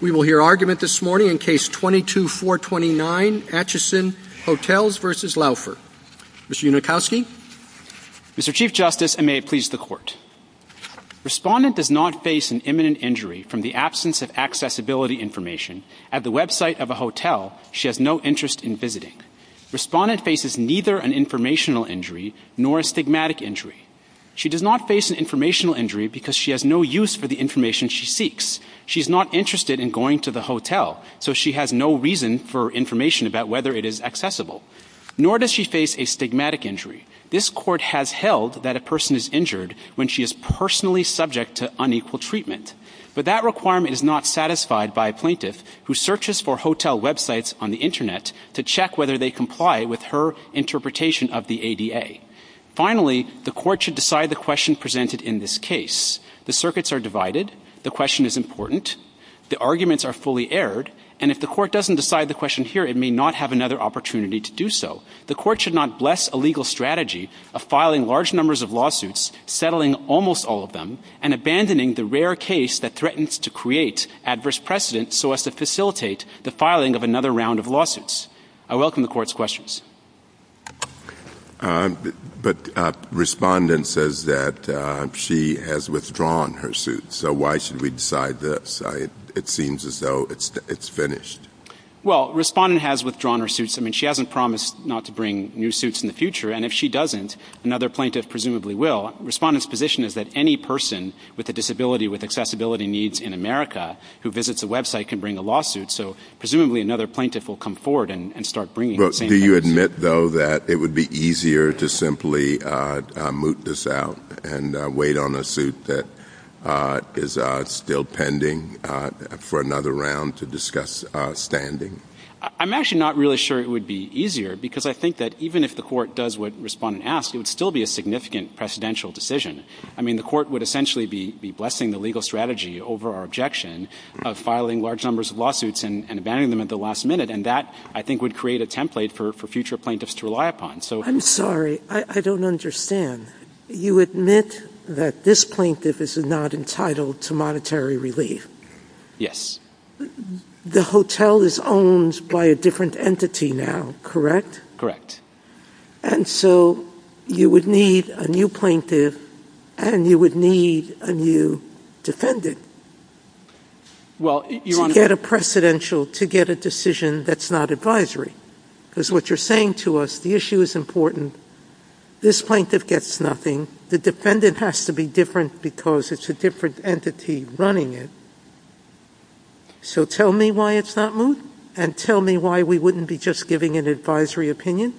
We will hear argument this morning in Case 22-429, Acheson Hotels v. Laufer. Mr. Unokowski? Mr. Chief Justice, and may it please the Court, Respondent does not face an imminent injury from the absence of accessibility information. At the website of a hotel, she has no interest in visiting. Respondent faces neither an informational injury nor a stigmatic injury. She does not face an informational injury because she has no use for the information she seeks. She is not interested in going to the hotel, so she has no reason for information about whether it is accessible. Nor does she face a stigmatic injury. This Court has held that a person is injured when she is personally subject to unequal treatment. But that requirement is not satisfied by a plaintiff who searches for hotel websites on the Internet to check whether they comply with her interpretation of the ADA. Finally, the Court should decide the question presented in this case. The circuits are divided. The question is important. The arguments are fully aired. And if the Court doesn't decide the question here, it may not have another opportunity to do so. The Court should not bless a legal strategy of filing large numbers of lawsuits, settling almost all of them, and abandoning the rare case that threatens to create adverse precedents so as to facilitate the filing of another round of lawsuits. I welcome the Court's questions. But Respondent says that she has withdrawn her suit, so why should we decide this? It seems as though it's finished. Well, Respondent has withdrawn her suit. I mean, she hasn't promised not to bring new suits in the future, and if she doesn't, another plaintiff presumably will. Respondent's position is that any person with a disability with accessibility needs in America who visits the website can bring a lawsuit, so presumably another plaintiff will come forward and start bringing the same thing. Do you admit, though, that it would be easier to simply moot this out and wait on a suit that is still pending for another round to discuss standing? I'm actually not really sure it would be easier, because I think that even if the Court does what Respondent asks, it would still be a significant precedential decision. I mean, the Court would essentially be blessing the legal strategy over our objection of filing large numbers of lawsuits and abandoning them at the last minute, and that, I think, would create a template for future plaintiffs to rely upon. I'm sorry, I don't understand. You admit that this plaintiff is not entitled to monetary relief. Yes. The hotel is owned by a different entity now, correct? Correct. And so you would need a new plaintiff and you would need a new defendant. You want to get a precedential to get a decision that's not advisory, because what you're saying to us, the issue is important. This plaintiff gets nothing. The defendant has to be different because it's a different entity running it. So tell me why it's not moot, and tell me why we wouldn't be just giving an advisory opinion.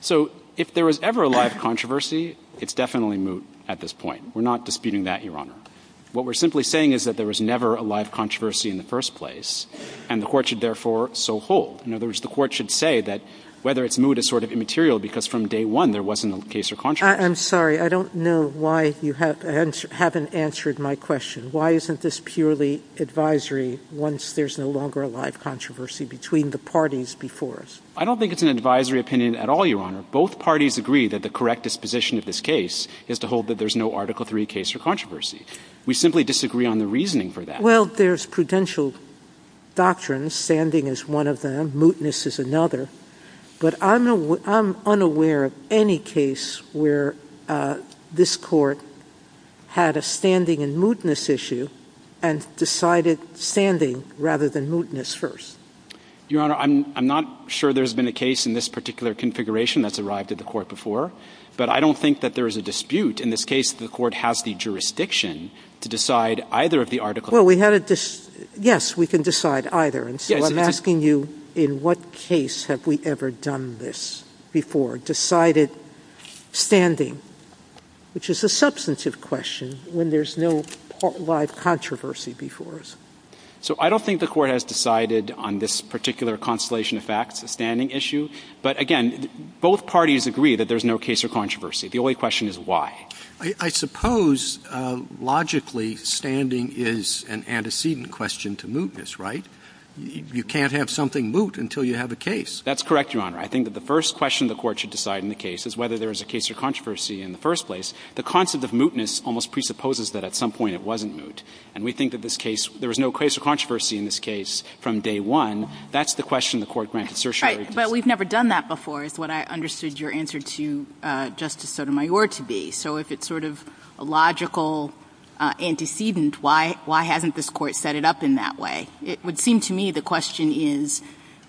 So if there was ever a live controversy, it's definitely moot at this point. We're not disputing that, Your Honor. What we're simply saying is that there was never a live controversy in the first place, and the court should therefore so hold. In other words, the court should say that whether it's moot is sort of immaterial because from day one there wasn't a case or controversy. I'm sorry, I don't know why you haven't answered my question. Why isn't this purely advisory once there's no longer a live controversy between the parties before us? I don't think it's an advisory opinion at all, Your Honor. Both parties agree that the correct disposition of this case is to hold that there's no Article III case or controversy. We simply disagree on the reasoning for that. Well, there's credentialed doctrines. Standing is one of them. Mootness is another. But I'm unaware of any case where this court had a standing and mootness issue and decided standing rather than mootness first. Your Honor, I'm not sure there's been a case in this particular configuration that's arrived at the court before, but I don't think that there is a dispute. In this case, the court has the jurisdiction to decide either of the articles. Well, yes, we can decide either, and so I'm asking you in what case have we ever done this before, decided standing, which is a substantive question when there's no live controversy before us. So I don't think the court has decided on this particular constellation of facts, the standing issue. But, again, both parties agree that there's no case or controversy. The only question is why. I suppose logically standing is an antecedent question to mootness, right? You can't have something moot until you have a case. That's correct, Your Honor. I think that the first question the court should decide in the case is whether there's a case or controversy in the first place. The concept of mootness almost presupposes that at some point it wasn't moot, and we think that this case, there was no case or controversy in this case from day one. That's the question the court might assertion. Right, but we've never done that before is what I understood your answer to Justice Sotomayor to be. So if it's sort of a logical antecedent, why hasn't this court set it up in that way? It would seem to me the question is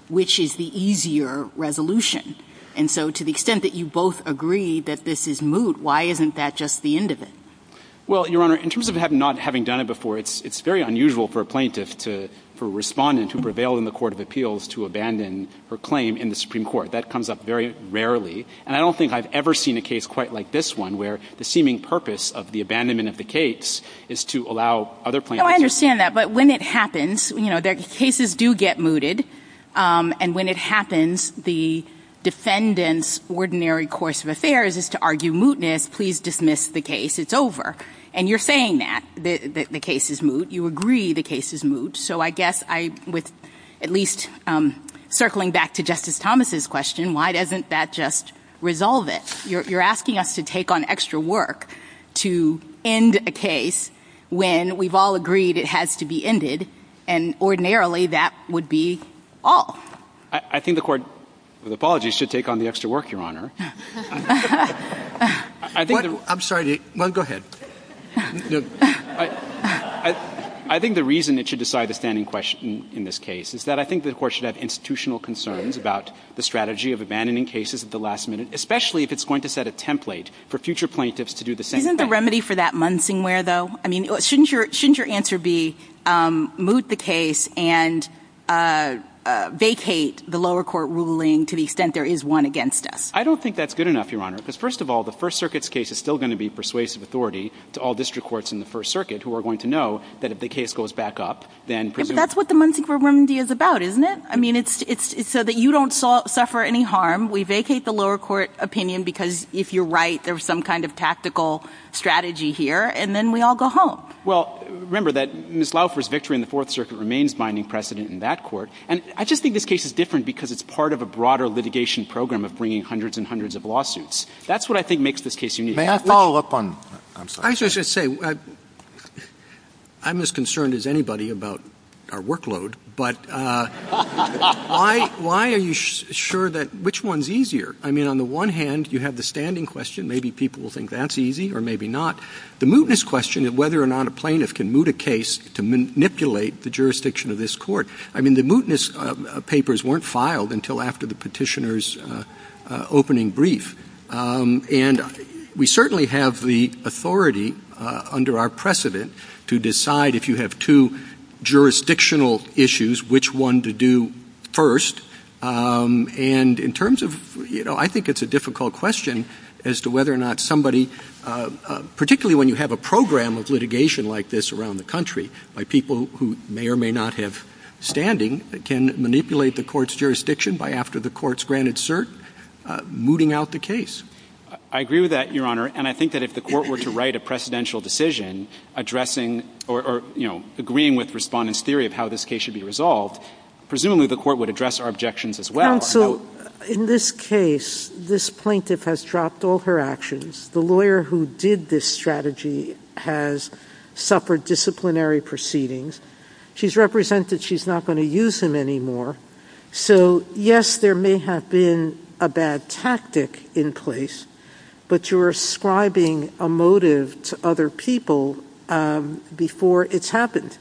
which is the easier resolution. And so to the extent that you both agree that this is moot, why isn't that just the end of it? Well, Your Honor, in terms of not having done it before, it's very unusual for a plaintiff to respond and to prevail in the court of appeals to abandon her claim in the Supreme Court. That comes up very rarely, and I don't think I've ever seen a case quite like this one where the seeming purpose of the abandonment of the case is to allow other plaintiffs. I understand that, but when it happens, you know, cases do get mooted, and when it happens the defendant's ordinary course of affairs is to argue mootness, please dismiss the case, it's over. And you're saying that, that the case is moot. You agree the case is moot. So I guess I would at least, circling back to Justice Thomas' question, why doesn't that just resolve it? You're asking us to take on extra work to end a case when we've all agreed it has to be ended, and ordinarily that would be all. I think the court, with apologies, should take on the extra work, Your Honor. I'm sorry. Well, go ahead. I think the reason it should decide the standing question in this case is that I think the court should have institutional concerns about the strategy of abandoning cases at the last minute, especially if it's going to set a template for future plaintiffs to do the same thing. Isn't there a remedy for that munsingware, though? I mean, shouldn't your answer be moot the case and vacate the lower court ruling to the extent there is one against us? I don't think that's good enough, Your Honor, because, first of all, the First Circuit's case is still going to be persuasive authority to all district courts in the First Circuit, who are going to know that if the case goes back up, then presumably— But that's what the munsingware remedy is about, isn't it? I mean, it's so that you don't suffer any harm. We vacate the lower court opinion because, if you're right, there's some kind of tactical strategy here, and then we all go home. Well, remember that Ms. Laufer's victory in the Fourth Circuit remains binding precedent in that court, and I just think this case is different because it's part of a broader litigation program of bringing hundreds and hundreds of lawsuits. That's what I think makes this case unique. May I follow up on—I'm sorry. I should say, I'm as concerned as anybody about our workload, but why are you sure that—which one's easier? I mean, on the one hand, you have the standing question. Maybe people will think that's easy, or maybe not. The mootness question is whether or not a plaintiff can moot a case to manipulate the jurisdiction of this court. I mean, the mootness papers weren't filed until after the petitioner's opening brief, and we certainly have the authority under our precedent to decide, if you have two jurisdictional issues, which one to do first. And in terms of—you know, I think it's a difficult question as to whether or not somebody— particularly when you have a program of litigation like this around the country by people who may or may not have standing— can manipulate the court's jurisdiction by, after the court's granted cert, mooting out the case. I agree with that, Your Honor. And I think that if the court were to write a precedential decision addressing— or, you know, agreeing with Respondent's theory of how this case should be resolved, presumably the court would address our objections as well. Counsel, in this case, this plaintiff has dropped all her actions. The lawyer who did this strategy has suffered disciplinary proceedings. She's represented she's not going to use him anymore. So, yes, there may have been a bad tactic in place, but you're ascribing a motive to other people before it's happened.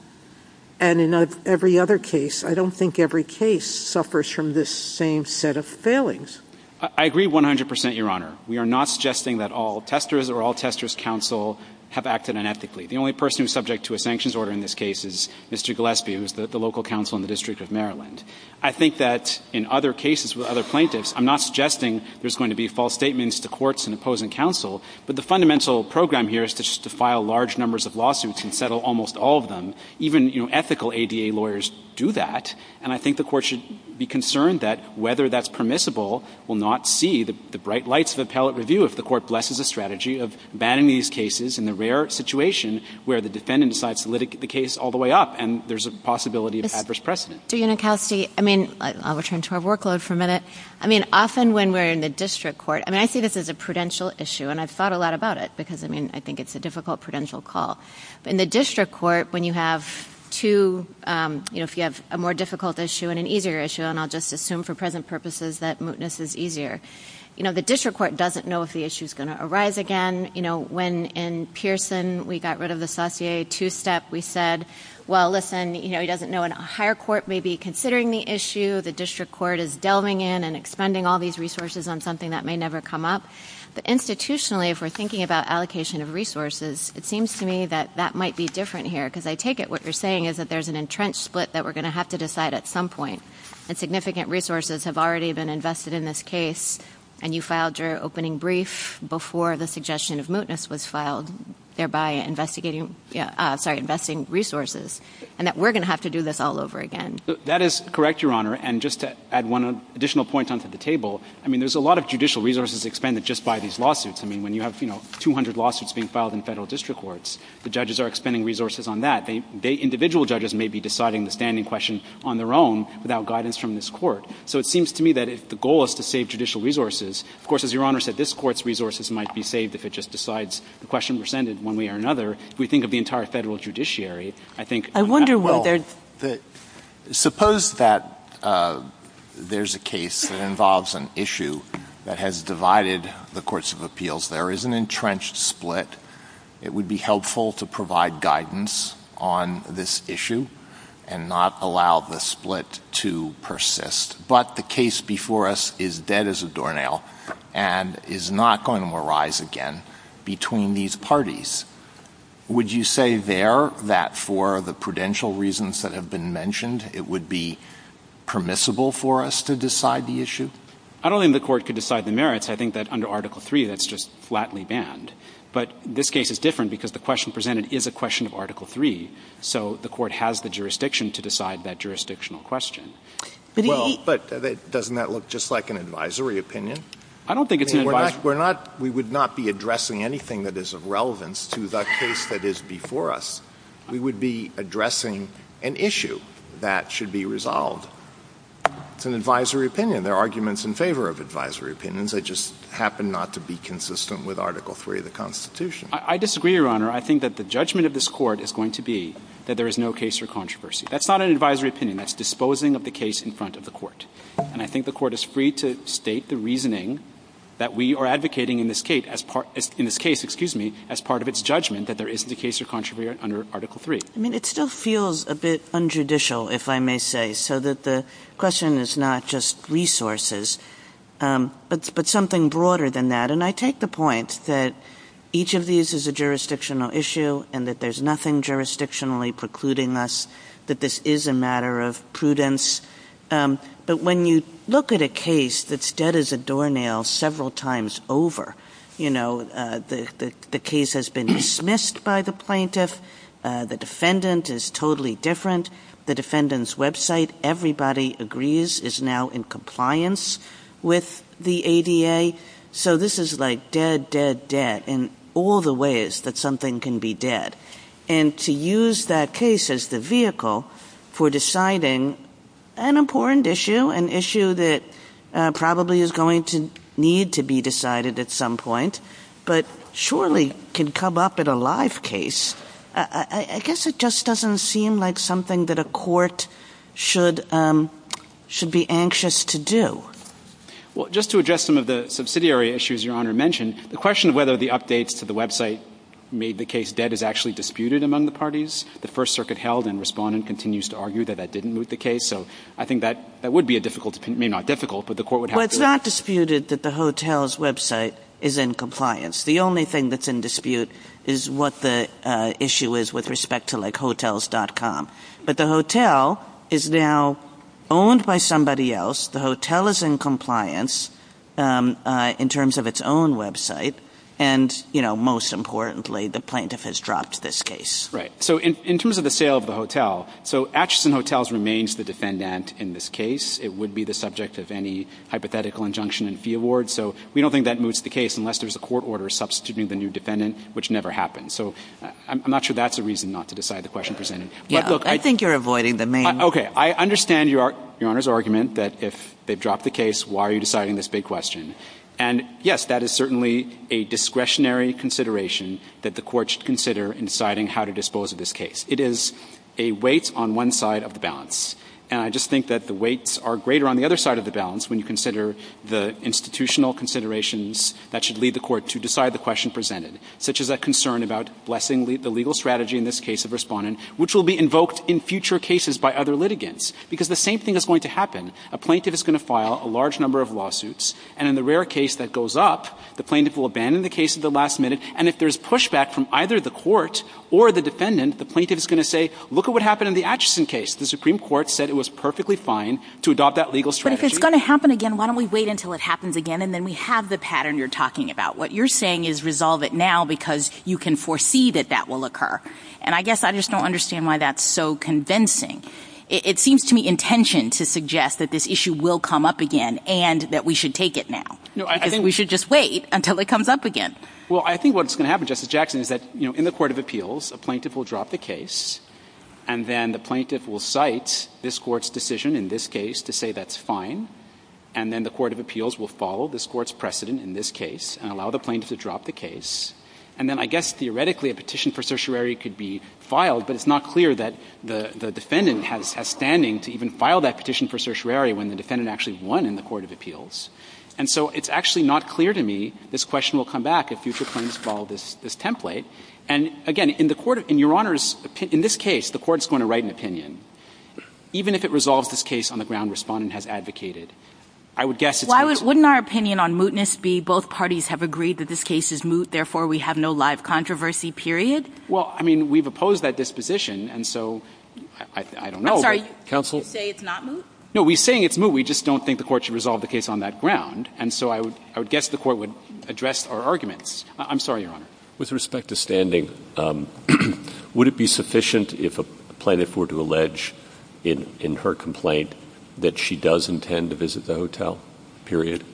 And in every other case, I don't think every case suffers from this same set of failings. I agree 100 percent, Your Honor. We are not suggesting that all testers or all testers counsel have acted unethically. The only person who's subject to a sanctions order in this case is Mr. Gillespie, who's the local counsel in the District of Maryland. I think that in other cases with other plaintiffs, I'm not suggesting there's going to be false statements to courts and opposing counsel, but the fundamental program here is just to file large numbers of lawsuits and settle almost all of them. Even, you know, ethical ADA lawyers do that, and I think the court should be concerned that whether that's permissible will not see the bright lights of appellate review if the court blesses a strategy of batting these cases in the rare situation where the defendant decides to litigate the case all the way up and there's a possibility of adverse precedent. Do you know, Kelsey, I mean, I'll return to our workload for a minute. I mean, often when we're in the district court, I mean, I see this as a prudential issue, and I've thought a lot about it because, I mean, I think it's a difficult prudential call. In the district court, when you have two, you know, if you have a more difficult issue and an easier issue, and I'll just assume for present purposes that mootness is easier. You know, the district court doesn't know if the issue's going to arise again. You know, when in Pearson we got rid of the Saussure two-step, we said, well, listen, you know, he doesn't know, and a higher court may be considering the issue. The district court is delving in and expending all these resources on something that may never come up. But institutionally, if we're thinking about allocation of resources, it seems to me that that might be different here because I take it what you're saying is that there's an entrenched split that we're going to have to decide at some point, and significant resources have already been invested in this case, and you filed your opening brief before the suggestion of mootness was filed, thereby investigating, sorry, investing resources, and that we're going to have to do this all over again. That is correct, Your Honor, and just to add one additional point onto the table, I mean, there's a lot of judicial resources expended just by these lawsuits. I mean, when you have, you know, 200 lawsuits being filed in federal district courts, the judges are expending resources on that. Individual judges may be deciding the standing question on their own without guidance from this court. So it seems to me that the goal is to save judicial resources. Of course, as Your Honor said, this court's resources might be saved if it just decides the question was presented in one way or another. If we think of the entire federal judiciary, I think that as well. I wonder whether the – Suppose that there's a case that involves an issue that has divided the courts of appeals. There is an entrenched split. It would be helpful to provide guidance on this issue and not allow the split to persist. But the case before us is dead as a doornail and is not going to arise again between these parties. Would you say there that for the prudential reasons that have been mentioned, it would be permissible for us to decide the issue? I don't think the court could decide the merits. I think that under Article III, that's just flatly banned. But this case is different because the question presented is a question of Article III. So the court has the jurisdiction to decide that jurisdictional question. Well, but doesn't that look just like an advisory opinion? I don't think it's an advisory – We're not – we would not be addressing anything that is of relevance to the case that is before us. We would be addressing an issue that should be resolved. It's an advisory opinion. Again, there are arguments in favor of advisory opinions. I just happen not to be consistent with Article III of the Constitution. I disagree, Your Honor. I think that the judgment of this court is going to be that there is no case for controversy. That's not an advisory opinion. That's disposing of the case in front of the court. And I think the court is free to state the reasoning that we are advocating in this case as part – in this case, excuse me, as part of its judgment that there is no case for controversy under Article III. I mean, it still feels a bit unjudicial, if I may say, so that the question is not just resources, but something broader than that. And I take the point that each of these is a jurisdictional issue and that there's nothing jurisdictionally precluding us that this is a matter of prudence. But when you look at a case that's dead as a doornail several times over, you know, the case has been dismissed by the plaintiff. The defendant is totally different. The defendant's website, everybody agrees, is now in compliance with the ADA. So this is like dead, dead, dead in all the ways that something can be dead. And to use that case as the vehicle for deciding an important issue, an issue that probably is going to need to be decided at some point, but surely can come up at a live case, I guess it just doesn't seem like something that a court should be anxious to do. Well, just to address some of the subsidiary issues Your Honor mentioned, the question of whether the updates to the website made the case dead is actually disputed among the parties. The First Circuit held and Respondent continues to argue that that didn't moot the case. So I think that would be a difficult, may not difficult, but the court would have to. But it's not disputed that the hotel's website is in compliance. The only thing that's in dispute is what the issue is with respect to hotels.com. But the hotel is now owned by somebody else. The hotel is in compliance in terms of its own website. And most importantly, the plaintiff has dropped this case. Right. So in terms of the sale of the hotel, so Atchison Hotels remains the defendant in this case. It would be the subject of any hypothetical injunction and fee award. So we don't think that moots the case unless there's a court order substituting the new defendant, which never happened. So I'm not sure that's a reason not to decide the question presented. I think you're avoiding the main. OK, I understand Your Honor's argument that if they drop the case, why are you deciding this big question? And yes, that is certainly a discretionary consideration that the court should consider in deciding how to dispose of this case. It is a weight on one side of the balance. And I just think that the weights are greater on the other side of the balance when you consider the institutional considerations that should lead the court to decide the question presented, such as that concern about blessing the legal strategy in this case of responding, which will be invoked in future cases by other litigants because the same thing is going to happen. A plaintiff is going to file a large number of lawsuits. And in the rare case that goes up, the plaintiff will abandon the case at the last minute. And if there's pushback from either the court or the defendant, the plaintiff is going to say, look at what happened in the Atchison case. The Supreme Court said it was perfectly fine to adopt that legal strategy. But if it's going to happen again, why don't we wait until it happens again? And then we have the pattern you're talking about. What you're saying is resolve it now because you can foresee that that will occur. And I guess I just don't understand why that's so convincing. It seems to me intention to suggest that this issue will come up again and that we should take it now. We should just wait until it comes up again. Well, I think what's going to happen, Justice Jackson, is that in the court of appeals, a plaintiff will drop the case, and then the plaintiff will cite this court's decision in this case to say that's fine. And then the court of appeals will follow this court's precedent in this case and allow the plaintiff to drop the case. And then I guess theoretically a petition for certiorari could be filed, but it's not clear that the defendant has standing to even file that petition for certiorari when the defendant actually won in the court of appeals. And so it's actually not clear to me this question will come back if future plaintiffs follow this template. And, again, in your Honor's opinion, in this case, the court's going to write an opinion, even if it resolves this case on the ground respondent has advocated. I would guess it does. Well, wouldn't our opinion on mootness be both parties have agreed that this case is moot, therefore we have no live controversy, period? Well, I mean, we've opposed that disposition, and so I don't know. I'm sorry. Counsel? You say it's not moot? No, we're saying it's moot. We just don't think the court should resolve the case on that ground. And so I would guess the court would address our arguments. I'm sorry, Your Honor. With respect to standing, would it be sufficient if a plaintiff were to allege in her complaint that she does intend to visit the hotel, period?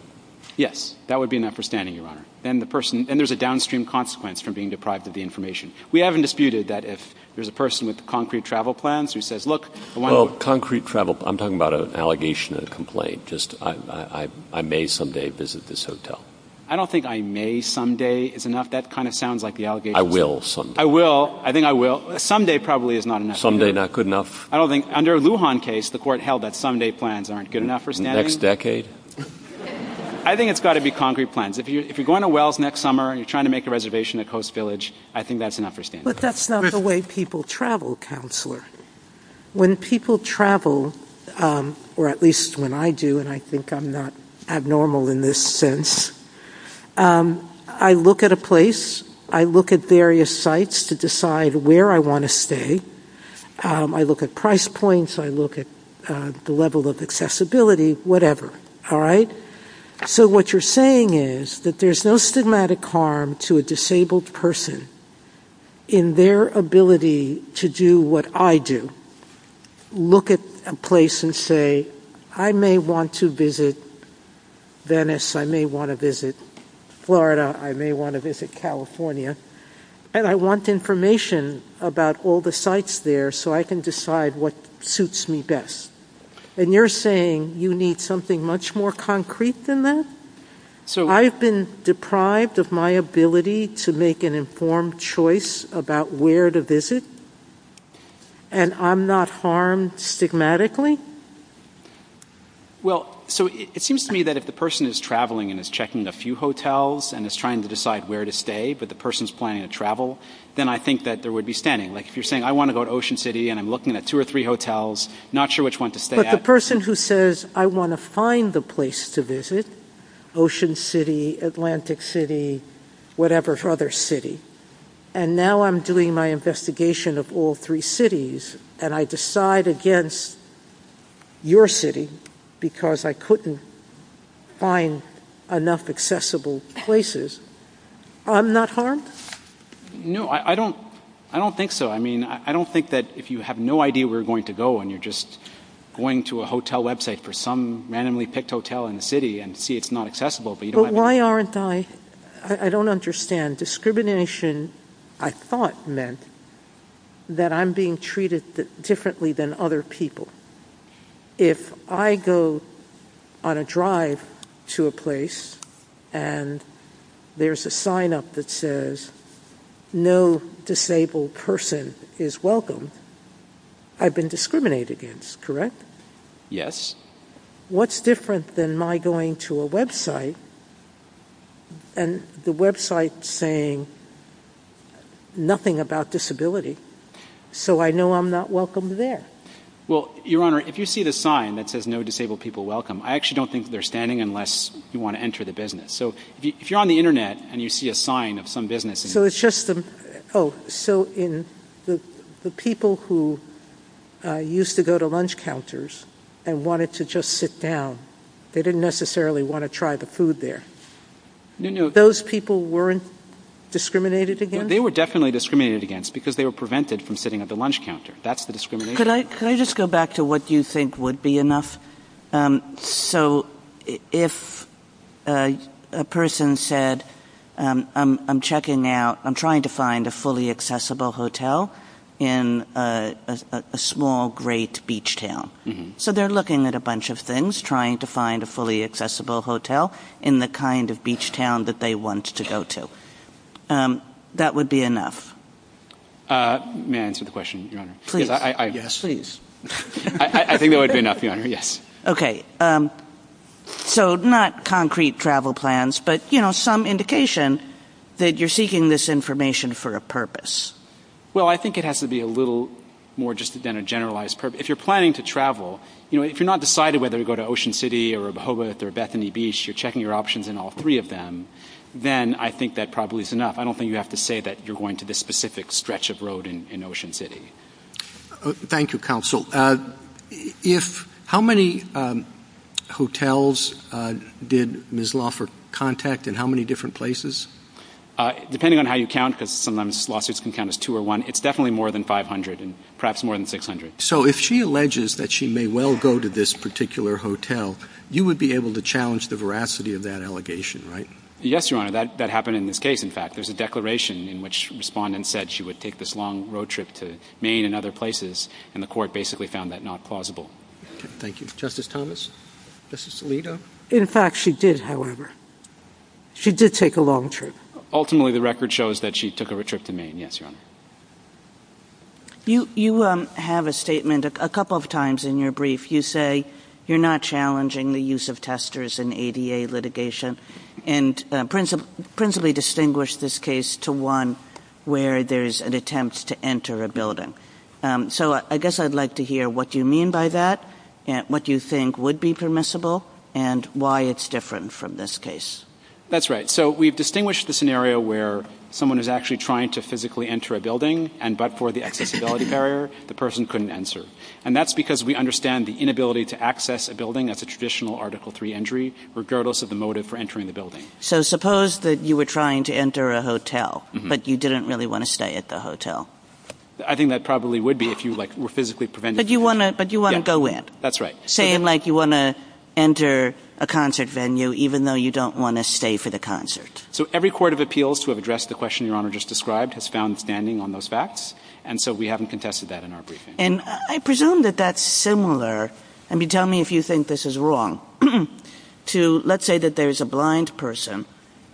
Yes. That would be enough for standing, Your Honor. And the person – and there's a downstream consequence from being deprived of the information. We haven't disputed that if there's a person with concrete travel plans who says, look – Well, concrete travel – I'm talking about an allegation, a complaint, just I may someday visit this hotel. I don't think I may someday is enough. That kind of sounds like the allegation. I will someday. I will. I think I will. Someday probably is not enough. Someday not good enough? I don't think – under a Lujan case, the court held that someday plans aren't good enough for standing. Next decade? I think it's got to be concrete plans. If you're going to Wells next summer and you're trying to make a reservation at Coast Village, I think that's enough for standing. But that's not the way people travel, Counselor. When people travel, or at least when I do, and I think I'm not abnormal in this sense, I look at a place. I look at various sites to decide where I want to stay. I look at price points. I look at the level of accessibility, whatever. All right? So what you're saying is that there's no stigmatic harm to a disabled person in their ability to do what I do. Look at a place and say, I may want to visit Venice. I may want to visit Florida. I may want to visit California. And I want information about all the sites there so I can decide what suits me best. And you're saying you need something much more concrete than that? So I've been deprived of my ability to make an informed choice about where to visit, and I'm not harmed stigmatically? Well, so it seems to me that if the person is traveling and is checking a few hotels and is trying to decide where to stay, but the person's planning to travel, then I think that there would be standing. Like if you're saying, I want to go to Ocean City, and I'm looking at two or three hotels, not sure which one to stay at. But the person who says, I want to find the place to visit, Ocean City, Atlantic City, whatever other city, and now I'm doing my investigation of all three cities, and I decide against your city because I couldn't find enough accessible places, I'm not harmed? No, I don't think so. I mean, I don't think that if you have no idea where you're going to go, and you're just going to a hotel website for some randomly picked hotel in the city and see it's not accessible. But why aren't I, I don't understand. Discrimination, I thought, meant that I'm being treated differently than other people. If I go on a drive to a place, and there's a sign up that says, no disabled person is welcome, I've been discriminated against, correct? Yes. What's different than my going to a website, and the website saying nothing about disability, so I know I'm not welcome there? Well, your honor, if you see the sign that says no disabled people welcome, I actually don't think they're standing unless you want to enter the business. So, if you're on the internet, and you see a sign of some business. So it's just, oh, so the people who used to go to lunch counters and wanted to just sit down, they didn't necessarily want to try the food there. Those people weren't discriminated against? They were definitely discriminated against because they were prevented from sitting at the lunch counter. Could I just go back to what you think would be enough? So, if a person said, I'm checking out, I'm trying to find a fully accessible hotel in a small, great beach town. So they're looking at a bunch of things, trying to find a fully accessible hotel in the kind of beach town that they want to go to. That would be enough. May I answer the question, your honor? Please. Yes, please. I think that would be enough, your honor, yes. Okay, so not concrete travel plans, but some indication that you're seeking this information for a purpose. Well, I think it has to be a little more just than a generalized purpose. If you're planning to travel, if you're not decided whether to go to Ocean City or Hobart or Bethany Beach, you're checking your options in all three of them, then I think that probably is enough. I don't think you have to say that you're going to this specific stretch of road in Ocean City. Thank you, counsel. How many hotels did Ms. Loffert contact and how many different places? Depending on how you count, because sometimes lawsuits can count as two or one, it's definitely more than 500 and perhaps more than 600. So if she alleges that she may well go to this particular hotel, you would be able to challenge the veracity of that allegation, right? Yes, your honor, that happened in this case, in fact. There's a declaration in which respondents said she would take this long road trip to Maine and other places, and the court basically found that not plausible. Thank you. Justice Thomas? Justice Alito? In fact, she did, however. She did take a long trip. Ultimately, the record shows that she took a trip to Maine. Yes, your honor. You have a statement a couple of times in your brief. You say you're not challenging the use of testers in ADA litigation and principally distinguish this case to one where there's an attempt to enter a building. So I guess I'd like to hear what you mean by that, what you think would be permissible, and why it's different from this case. That's right. So we've distinguished the scenario where someone is actually trying to physically enter a building, and but for the accessibility barrier, the person couldn't enter. And that's because we understand the inability to access a building. That's a traditional Article III injury, regardless of the motive for entering the building. So suppose that you were trying to enter a hotel, but you didn't really want to stay at the hotel. I think that probably would be if you were physically preventing it. But you want to go there. That's right. Saying like you want to enter a concert venue, even though you don't want to stay for the concert. So every court of appeals who have addressed the question your honor just described has found standing on those facts. And so we haven't contested that in our briefing. And I presume that that's similar. I mean, tell me if you think this is wrong. To let's say that there's a blind person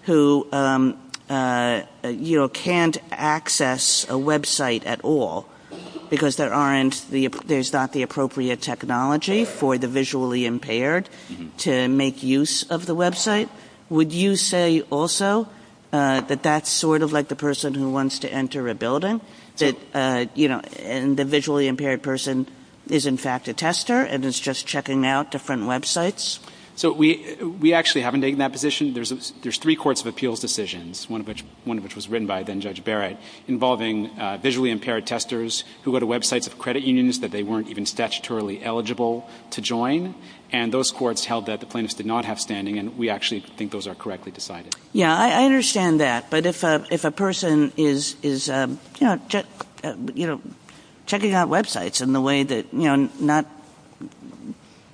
who, you know, can't access a website at all, because there's not the appropriate technology for the visually impaired to make use of the website. Would you say also that that's sort of like the person who wants to enter a building? That, you know, the visually impaired person is in fact a tester and is just checking out different websites? So we actually haven't taken that position. There's three courts of appeals decisions, one of which was written by then Judge Barrett, involving visually impaired testers who go to websites of credit unions that they weren't even statutorily eligible to join. And those courts held that the plaintiffs did not have standing, and we actually think those are correctly decided. Yeah, I understand that. But if a person is, you know, checking out websites in the way that, you know,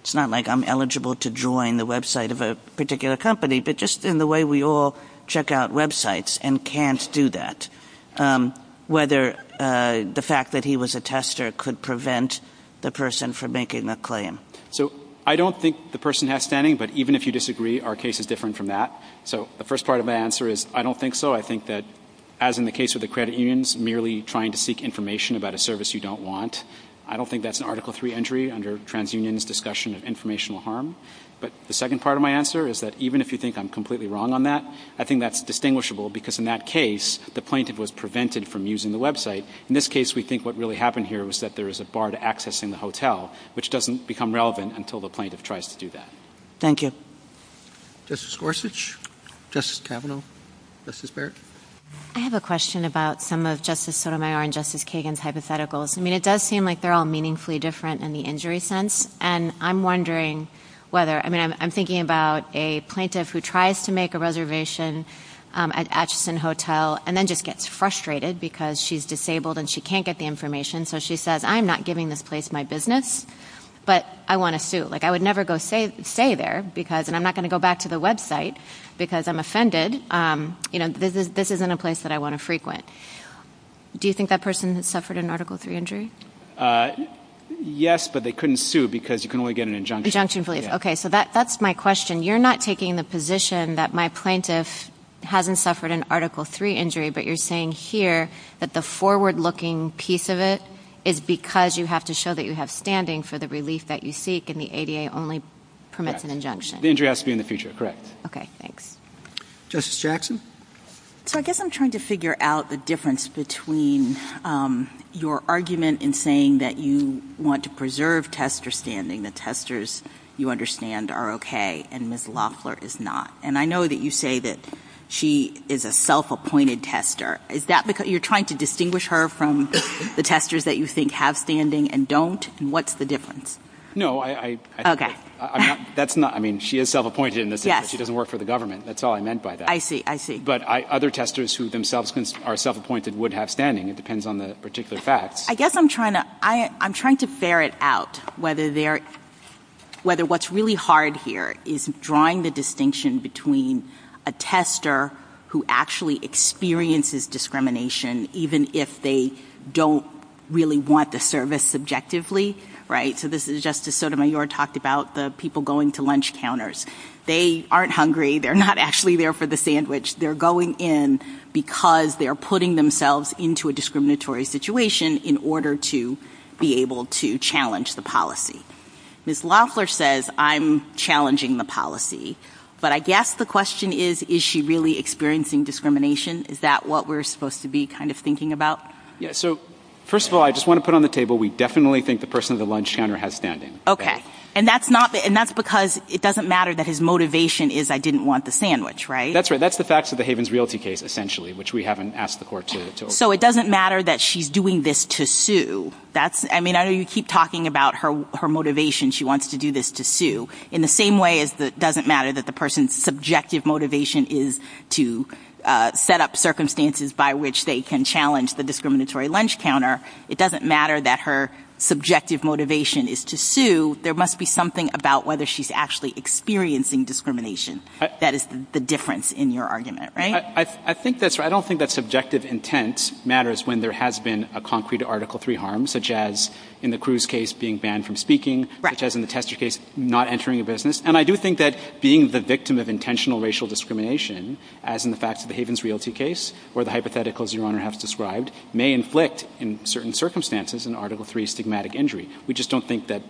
it's not like I'm eligible to join the website of a particular company, but just in the way we all check out websites and can't do that, whether the fact that he was a tester could prevent the person from making a claim. So I don't think the person has standing, but even if you disagree, our case is different from that. So the first part of my answer is I don't think so. I think that, as in the case of the credit unions, merely trying to seek information about a service you don't want, I don't think that's an Article III entry under TransUnion's discussion of informational harm. But the second part of my answer is that even if you think I'm completely wrong on that, I think that's distinguishable because in that case, the plaintiff was prevented from using the website. In this case, we think what really happened here was that there is a bar to accessing the hotel, which doesn't become relevant until the plaintiff tries to do that. Thank you. Justice Gorsuch? Justice Kavanaugh? Justice Barrett? I have a question about some of Justice Sotomayor and Justice Kagan's hypotheticals. I mean, it does seem like they're all meaningfully different in the injury sense. And I'm wondering whether – I mean, I'm thinking about a plaintiff who tries to make a reservation at Atchison Hotel and then just gets frustrated because she's disabled and she can't get the information. So she says, I'm not giving this place my business, but I want to sue. Like, I would never go stay there because – and I'm not going to go back to the website because I'm offended. You know, this isn't a place that I want to frequent. Do you think that person has suffered an Article III injury? Yes, but they couldn't sue because you can only get an injunction. Injunction, please. Okay, so that's my question. You're not taking the position that my plaintiff hasn't suffered an Article III injury, but you're saying here that the forward-looking piece of it is because you have to show that you have standing for the relief that you seek and the ADA only permits an injunction. The injury has to be in the future, correct. Okay, thanks. Justice Jackson? So I guess I'm trying to figure out the difference between your argument in saying that you want to preserve tester standing, the testers you understand are okay, and Ms. Loeffler is not. And I know that you say that she is a self-appointed tester. Is that because – you're trying to distinguish her from the testers that you think have standing and don't? And what's the difference? No, I – Okay. That's not – I mean, she is self-appointed. Yes. She doesn't work for the government. That's all I meant by that. I see, I see. But other testers who themselves are self-appointed would have standing. It depends on the particular facts. I guess I'm trying to – I'm trying to ferret out whether there – whether what's really hard here is drawing the distinction between a tester who actually experiences discrimination even if they don't really want the service subjectively, right? So this is Justice Sotomayor talked about the people going to lunch counters. They aren't hungry. They're not actually there for the sandwich. They're going in because they're putting themselves into a discriminatory situation in order to be able to challenge the policy. Ms. Loeffler says, I'm challenging the policy. But I guess the question is, is she really experiencing discrimination? Is that what we're supposed to be kind of thinking about? Yes. So first of all, I just want to put on the table we definitely think the person at the lunch counter has standing. Okay. And that's not – and that's because it doesn't matter that his motivation is I didn't want the sandwich, right? That's right. That's the facts of the Havens Realty case, essentially, which we haven't asked the court to – So it doesn't matter that she's doing this to sue. That's – I mean, I know you keep talking about her motivation. She wants to do this to sue. In the same way as it doesn't matter that the person's subjective motivation is to set up circumstances by which they can challenge the discriminatory lunch counter, it doesn't matter that her subjective motivation is to sue. There must be something about whether she's actually experiencing discrimination that is the difference in your argument, right? I think that's right. I don't think that subjective intent matters when there has been a concrete Article III harm, such as in the Cruz case being banned from speaking, such as in the Tester case not entering a business. And I do think that being the victim of intentional racial discrimination, as in the facts of the Havens Realty case or the hypotheticals your Honor has described, may inflict in certain circumstances in Article III stigmatic injury. We just don't think that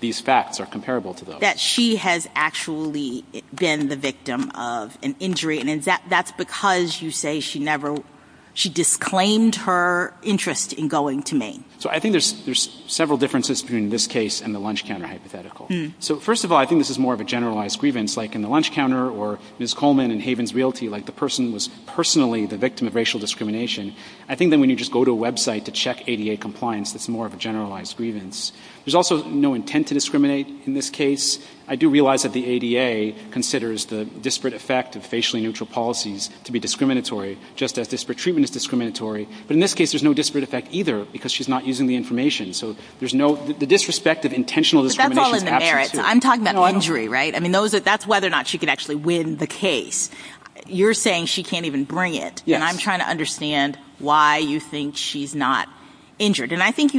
these facts are comparable to those. That she has actually been the victim of an injury, and that's because you say she never – she disclaimed her interest in going to Maine. So I think there's several differences between this case and the lunch counter hypothetical. So first of all, I think this is more of a generalized grievance. or Ms. Coleman in Havens Realty, like the person was personally the victim of racial discrimination. I think that when you just go to a website to check ADA compliance, it's more of a generalized grievance. There's also no intent to discriminate in this case. I do realize that the ADA considers the disparate effect of facially neutral policies to be discriminatory, just as disparate treatment is discriminatory. But in this case, there's no disparate effect either, because she's not using the information. So there's no – the disrespect of intentional discrimination – But that's all in the merits. I'm talking about injury, right? I mean, that's whether or not she could actually win the case. You're saying she can't even bring it, and I'm trying to understand why you think she's not injured. And I think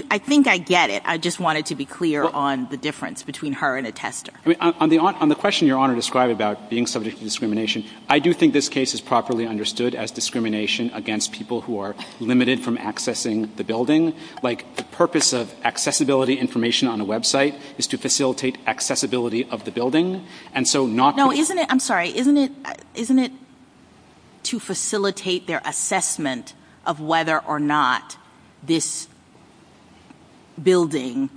I get it. I just wanted to be clear on the difference between her and a tester. On the question Your Honor described about being subject to discrimination, I do think this case is properly understood as discrimination against people who are limited from accessing the building. Like, the purpose of accessibility information on a website is to facilitate accessibility of the building. And so not – No, isn't it – I'm sorry. Isn't it to facilitate their assessment of whether or not this building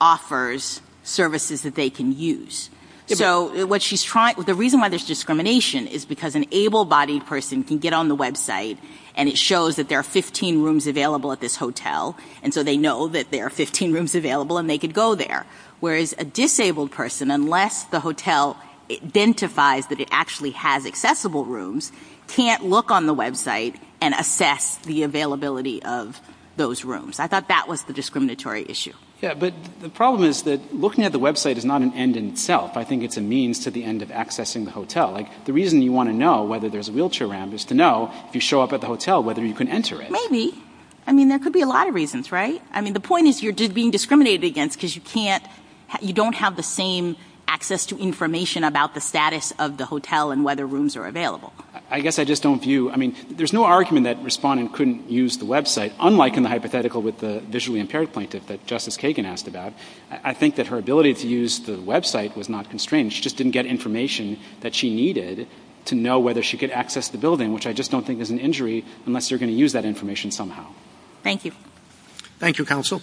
offers services that they can use? So what she's trying – the reason why there's discrimination is because an able-bodied person can get on the website, and it shows that there are 15 rooms available at this hotel, and so they know that there are 15 rooms available and they could go there. Whereas a disabled person, unless the hotel identifies that it actually has accessible rooms, can't look on the website and assess the availability of those rooms. I thought that was the discriminatory issue. Yeah, but the problem is that looking at the website is not an end in itself. Like, the reason you want to know whether there's a wheelchair ramp is to know, if you show up at the hotel, whether you can enter it. Maybe. I mean, there could be a lot of reasons, right? I mean, the point is you're being discriminated against because you can't – you don't have the same access to information about the status of the hotel and whether rooms are available. I guess I just don't view – I mean, there's no argument that Respondent couldn't use the website, unlike in the hypothetical with the visually impaired plaintiff that Justice Kagan asked about. I think that her ability to use the website was not constrained. She just didn't get information that she needed to know whether she could access the building, which I just don't think is an injury unless you're going to use that information somehow. Thank you. Thank you, Counsel.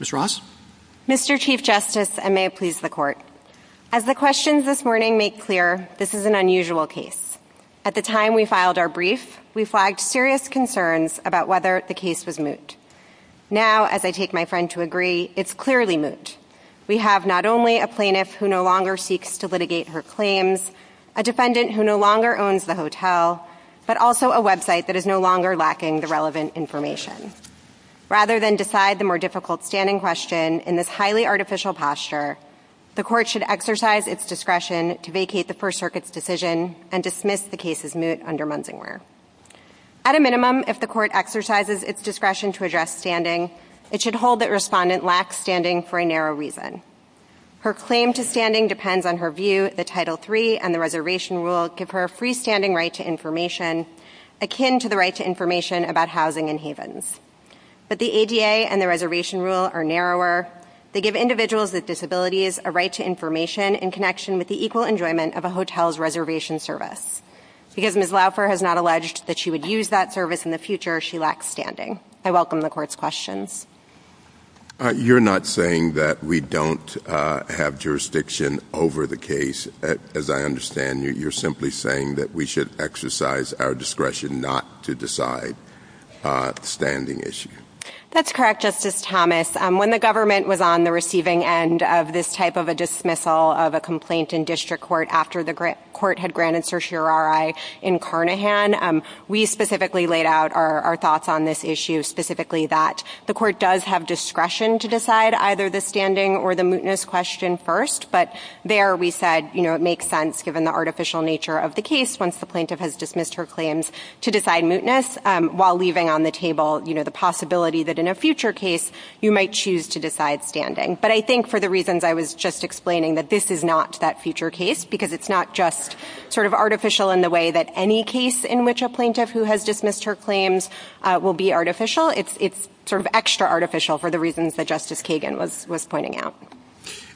Ms. Ross? Mr. Chief Justice, and may it please the Court, as the questions this morning make clear, this is an unusual case. At the time we filed our brief, we flagged serious concerns about whether the case was moot. Now, as I take my friend to agree, it's clearly moot. We have not only a plaintiff who no longer seeks to litigate her claims, a defendant who no longer owns the hotel, but also a website that is no longer lacking the relevant information. Rather than decide the more difficult standing question in this highly artificial posture, the Court should exercise its discretion to vacate the First Circuit's decision and dismiss the case as moot under Munsingware. At a minimum, if the Court exercises its discretion to address standing, it should hold that Respondent lacks standing for a narrow reason. Her claim to standing depends on her view that Title III and the Reservation Rule give her a freestanding right to information akin to the right to information about housing and havens. But the ADA and the Reservation Rule are narrower. They give individuals with disabilities a right to information in connection with the equal enjoyment of a hotel's reservation service. Because Ms. Laufer has not alleged that she would use that service in the future, she lacks standing. I welcome the Court's questions. You're not saying that we don't have jurisdiction over the case, as I understand you. You're simply saying that we should exercise our discretion not to decide a standing issue. That's correct, Justice Thomas. When the government was on the receiving end of this type of a dismissal of a complaint in district court after the Court had granted certiorari in Carnahan, we specifically laid out our thoughts on this issue, specifically that the Court does have discretion to decide either the standing or the mootness question first. But there we said it makes sense, given the artificial nature of the case, once the plaintiff has dismissed her claims, to decide mootness while leaving on the table the possibility that in a future case you might choose to decide standing. But I think, for the reasons I was just explaining, that this is not that future case because it's not just sort of artificial in the way that any case in which a plaintiff who has dismissed her claims will be artificial. It's sort of extra artificial for the reasons that Justice Kagan was pointing out.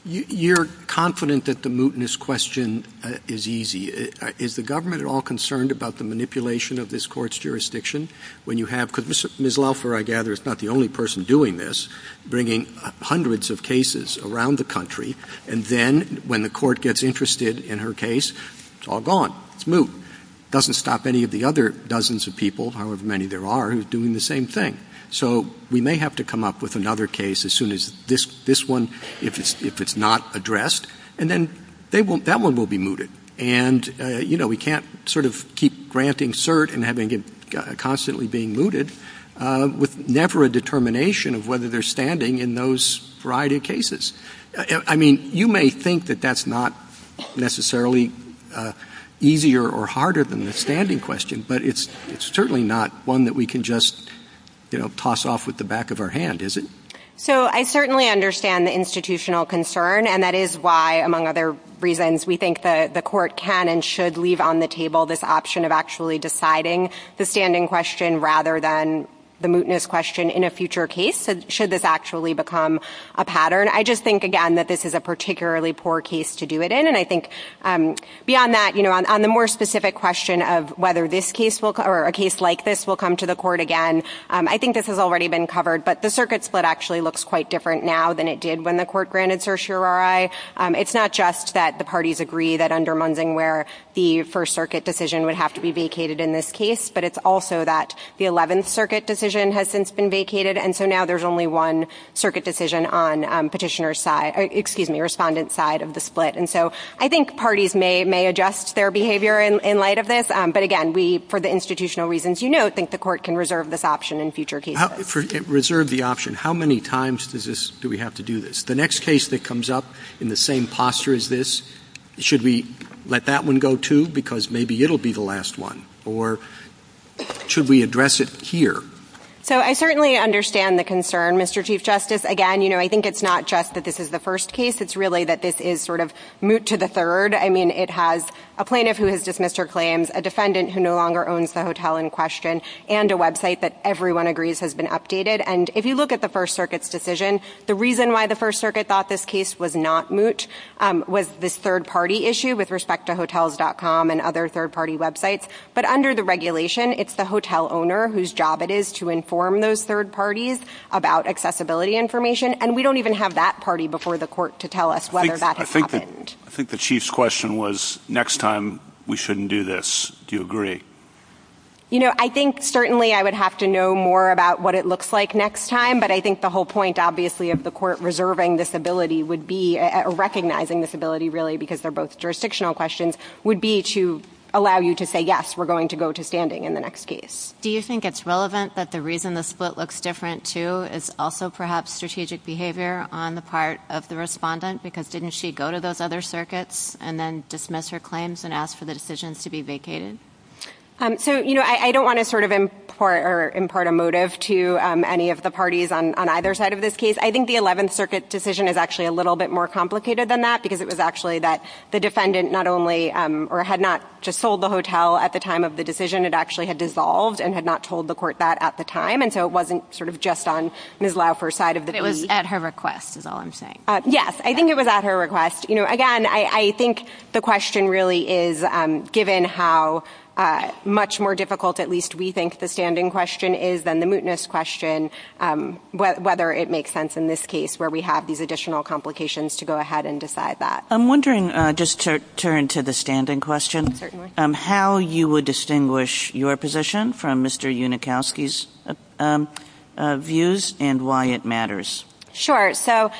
You're confident that the mootness question is easy. Is the government at all concerned about the manipulation of this Court's jurisdiction when you have Ms. Laufer, I gather, is not the only person doing this, bringing hundreds of cases around the country, and then when the Court gets interested in her case, it's all gone. It's moot. It doesn't stop any of the other dozens of people, however many there are, who are doing the same thing. So we may have to come up with another case as soon as this one, if it's not addressed, and then that one will be mooted. And, you know, we can't sort of keep granting cert and having it constantly being mooted with never a determination of whether they're standing in those variety of cases. I mean, you may think that that's not necessarily easier or harder than the standing question, but it's certainly not one that we can just, you know, toss off with the back of our hand, is it? So I certainly understand the institutional concern, and that is why, among other reasons, we think that the Court can and should leave on the table this option of actually deciding the standing question rather than the mootness question in a future case, should this actually become a pattern. I just think, again, that this is a particularly poor case to do it in, and I think beyond that, you know, on the more specific question of whether this case or a case like this will come to the Court again, I think this has already been covered, but the circuit split actually looks quite different now than it did when the Court granted certiorari. It's not just that the parties agree that under Munsingware, the First Circuit decision would have to be vacated in this case, but it's also that the Eleventh Circuit decision has since been vacated, and so now there's only one circuit decision on petitioner's side, excuse me, respondent's side of the split. And so I think parties may adjust their behavior in light of this, but, again, we, for the institutional reasons you know, think the Court can reserve this option in future cases. Reserve the option. How many times do we have to do this? The next case that comes up in the same posture as this, should we let that one go too, because maybe it'll be the last one, or should we address it here? So I certainly understand the concern, Mr. Chief Justice. Again, you know, I think it's not just that this is the first case. It's really that this is sort of moot to the third. I mean, it has a plaintiff who has dismissed her claims, a defendant who no longer owns the hotel in question, and a website that everyone agrees has been updated. And if you look at the First Circuit's decision, the reason why the First Circuit thought this case was not moot was this third-party issue with respect to hotels.com and other third-party websites. But under the regulation, it's the hotel owner whose job it is to inform those third parties about accessibility information, and we don't even have that party before the Court to tell us whether that has happened. I think the Chief's question was, next time we shouldn't do this. Do you agree? You know, I think certainly I would have to know more about what it looks like next time, but I think the whole point, obviously, of the Court reserving this ability would be, or recognizing this ability, really, because they're both jurisdictional questions, would be to allow you to say, yes, we're going to go to standing in the next case. Do you think it's relevant that the reason the split looks different, too, is also perhaps strategic behavior on the part of the respondent, because didn't she go to those other circuits and then dismiss her claims and ask for the decisions to be vacated? So, you know, I don't want to sort of impart a motive to any of the parties on either side of this case. I think the 11th Circuit decision is actually a little bit more complicated than that, because it was actually that the defendant not only, or had not just sold the hotel at the time of the decision, it actually had dissolved and had not told the Court that at the time, and so it wasn't sort of just on Ms. Laufer's side of the beach. It was at her request, is all I'm saying. Yes, I think it was at her request. You know, again, I think the question really is, given how much more difficult, at least, we think the standing question is than the mootness question, whether it makes sense in this case where we have these additional complications to go ahead and decide that. I'm wondering, just to turn to the standing question, how you would distinguish your position from Mr. Unikowski's views and why it matters. Sure. So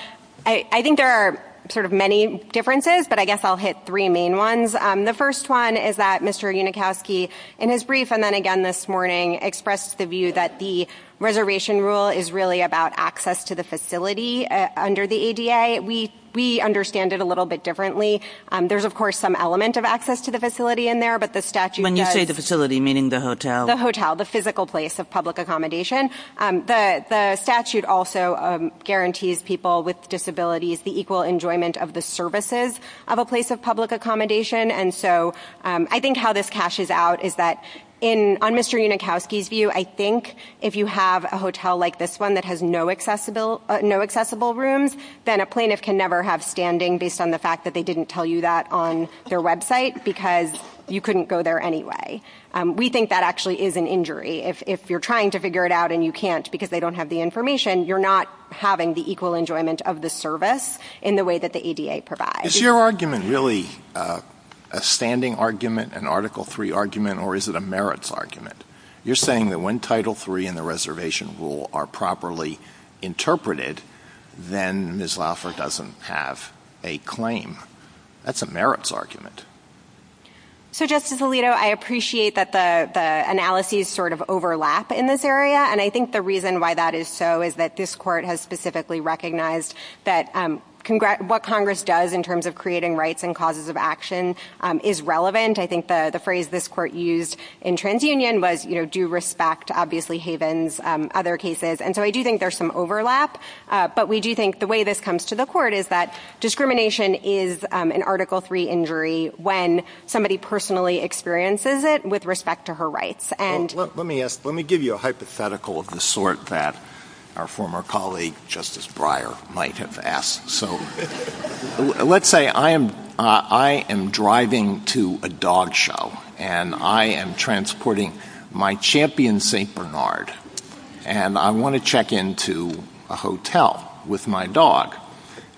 I think there are sort of many differences, but I guess I'll hit three main ones. The first one is that Mr. Unikowski, in his brief and then again this morning, expressed the view that the reservation rule is really about access to the facility under the ADA. We understand it a little bit differently. There's, of course, some element of access to the facility in there, but the statute does— When you say the facility, meaning the hotel. The hotel, the physical place of public accommodation. The statute also guarantees people with disabilities the equal enjoyment of the services of a place of public accommodation. And so I think how this cashes out is that on Mr. Unikowski's view, I think if you have a hotel like this one that has no accessible rooms, then a plaintiff can never have standing based on the fact that they didn't tell you that on their website because you couldn't go there anyway. We think that actually is an injury. If you're trying to figure it out and you can't because they don't have the information, you're not having the equal enjoyment of the service in the way that the ADA provides. Is your argument really a standing argument, an Article III argument, or is it a merits argument? You're saying that when Title III and the reservation rule are properly interpreted, then Ms. Laufer doesn't have a claim. That's a merits argument. So, Justice Alito, I appreciate that the analyses sort of overlap in this area, and I think the reason why that is so is that this court has specifically recognized that what Congress does in terms of creating rights and causes of action is relevant. I think the phrase this court used in TransUnion was, you know, do respect, obviously, Haven's other cases. And so I do think there's some overlap, but we do think the way this comes to the court is that when somebody personally experiences it with respect to her rights. Let me give you a hypothetical of the sort that our former colleague, Justice Breyer, might have asked. So let's say I am driving to a dog show, and I am transporting my champion, St. Bernard, and I want to check into a hotel with my dog,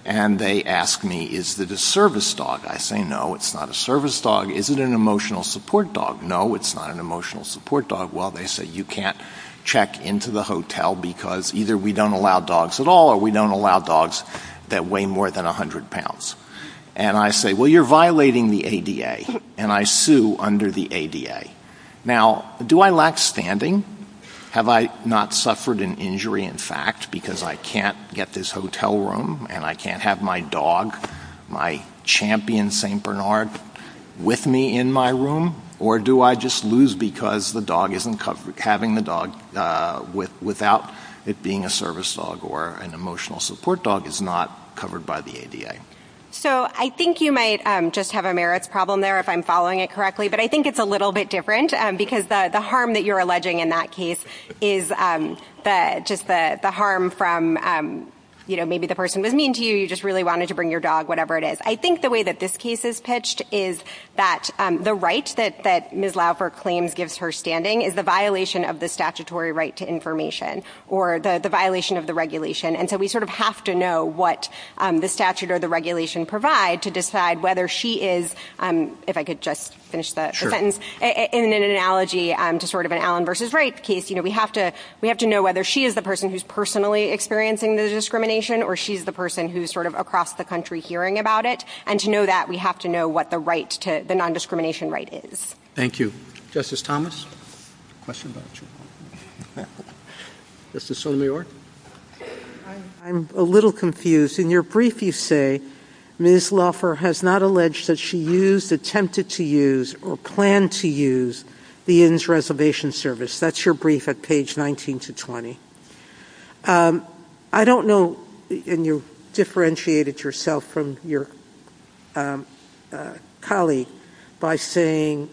and they ask me, is it a service dog? I say, no, it's not a service dog. Is it an emotional support dog? No, it's not an emotional support dog. Well, they say, you can't check into the hotel because either we don't allow dogs at all, or we don't allow dogs that weigh more than 100 pounds. And I say, well, you're violating the ADA, and I sue under the ADA. Now, do I lack standing? Have I not suffered an injury, in fact, because I can't get this hotel room, and I can't have my dog, my champion St. Bernard, with me in my room? Or do I just lose because having the dog without it being a service dog or an emotional support dog is not covered by the ADA? So I think you might just have a merits problem there if I'm following it correctly, but I think it's a little bit different because the harm that you're alleging in that case is just the harm from, you know, maybe the person listening to you, you just really wanted to bring your dog, whatever it is. I think the way that this case is pitched is that the right that Ms. Laufer claims gives her standing is the violation of the statutory right to information or the violation of the regulation. And so we sort of have to know what the statute or the regulation provide to decide whether she is, if I could just finish the sentence, in an analogy to sort of an Allen v. Wright case, you know, we have to know whether she is the person who's personally experiencing the discrimination or she's the person who's sort of across the country hearing about it. And to know that, we have to know what the right to the nondiscrimination right is. Thank you. Justice Thomas, question? Justice Sotomayor? I'm a little confused. In your brief, you say Ms. Laufer has not alleged that she used, attempted to use, or planned to use the inn's reservation service. That's your brief at page 19 to 20. I don't know, and you've differentiated yourself from your colleague by saying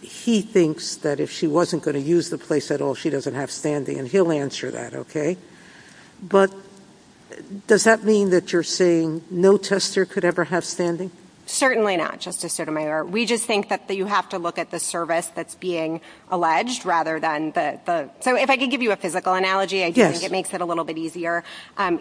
he thinks that if she wasn't going to use the place at all, she doesn't have standing, and he'll answer that, okay? But does that mean that you're saying no tester could ever have standing? Certainly not, Justice Sotomayor. We just think that you have to look at the service that's being alleged rather than the ‑‑ so if I could give you a physical analogy, I do think it makes it a little bit easier.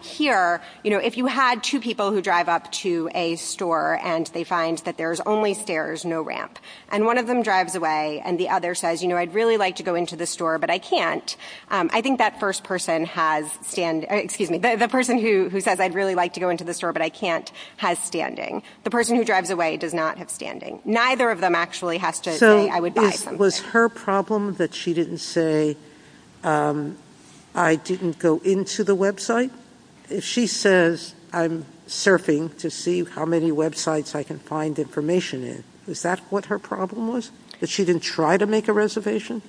Here, you know, if you had two people who drive up to a store and they find that there's only stairs, no ramp, and one of them drives away and the other says, you know, I'd really like to go into the store, but I can't, I think that first person has ‑‑ excuse me, the person who says I'd really like to go into the store, but I can't has standing. The person who drives away does not have standing. Neither of them actually has to say I would buy something. So was her problem that she didn't say I didn't go into the website? If she says I'm surfing to see how many websites I can find information in, is that what her problem was, that she didn't try to make a reservation,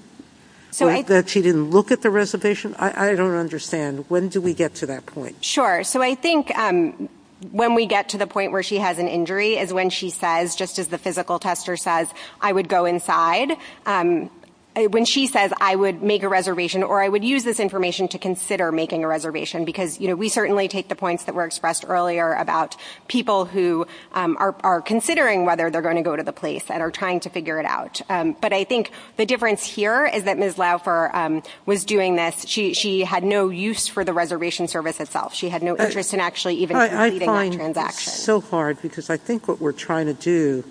that she didn't look at the reservation? I don't understand. When do we get to that point? Sure. So I think when we get to the point where she has an injury is when she says, just as the physical tester says, I would go inside. When she says I would make a reservation or I would use this information to consider making a reservation, because, you know, we certainly take the points that were expressed earlier about people who are considering whether they're going to go to the place and are trying to figure it out. But I think the difference here is that Ms. Laufer was doing this. She had no use for the reservation service itself. She had no interest in actually even completing that transaction. I find it so hard because I think what we're trying to do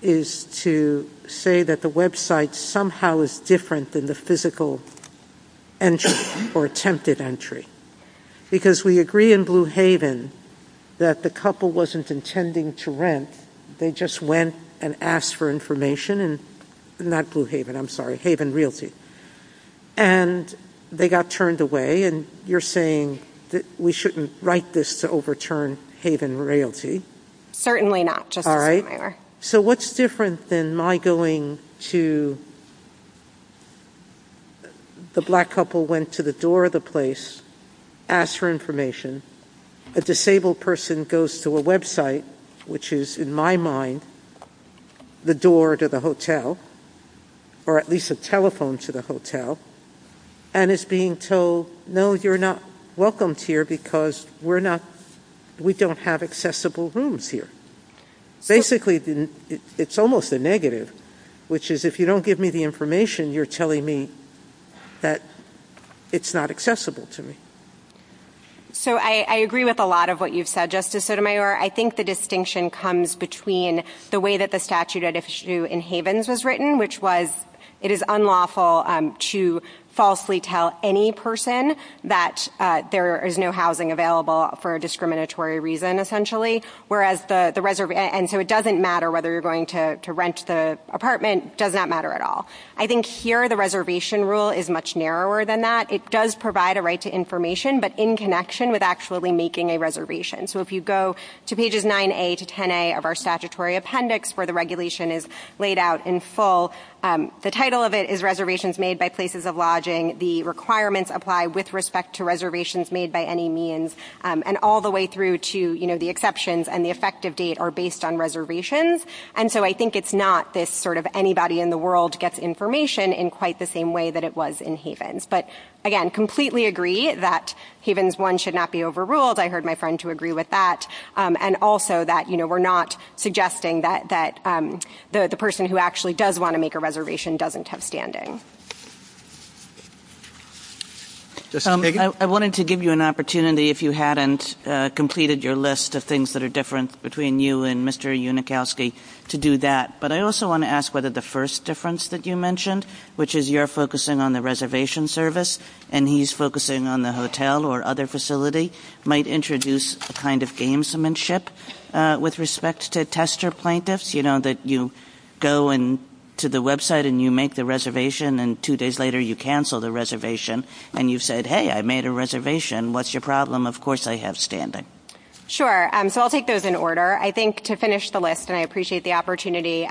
is to say that the website somehow is different than the physical entry or attempted entry. Because we agree in Blue Haven that the couple wasn't intending to rent. They just went and asked for information in that Blue Haven, I'm sorry, Haven Realty. And they got turned away. And you're saying that we shouldn't write this to overturn Haven Realty. Certainly not. All right. So what's different than my going to the black couple went to the door of the place, asked for information. A disabled person goes to a website, which is, in my mind, the door to the hotel, or at least a telephone to the hotel, and is being told, no, you're not welcome here because we don't have accessible rooms here. Basically, it's almost a negative, which is if you don't give me the information, you're telling me that it's not accessible to me. So I agree with a lot of what you've said, Justice Sotomayor. I think the distinction comes between the way that the statute at issue in Havens was written, which was it is unlawful to falsely tell any person that there is no housing available for a discriminatory reason, essentially. And so it doesn't matter whether you're going to rent the apartment. It does not matter at all. I think here the reservation rule is much narrower than that. It does provide a right to information, but in connection with actually making a reservation. So if you go to pages 9A to 10A of our statutory appendix, where the regulation is laid out in full, the title of it is Reservations Made by Places of Lodging. The requirements apply with respect to reservations made by any means, and all the way through to, you know, the exceptions and the effective date are based on reservations. And so I think it's not this sort of anybody in the world gets information in quite the same way that it was in Havens. But, again, completely agree that Havens 1 should not be overruled. I heard my friend to agree with that. And also that, you know, we're not suggesting that the person who actually does want to make a reservation doesn't have standing. I wanted to give you an opportunity, if you hadn't completed your list of things that are different between you and Mr. Unikowski, to do that. But I also want to ask whether the first difference that you mentioned, which is you're focusing on the reservation service, and he's focusing on the hotel or other facility, might introduce a kind of gamesmanship with respect to tester plaintiffs, you know, that you go to the website and you make the reservation and two days later you cancel the reservation and you've said, hey, I made a reservation. What's your problem? Of course I have standing. Sure. So I'll take those in order. I think to finish the list, and I appreciate the opportunity,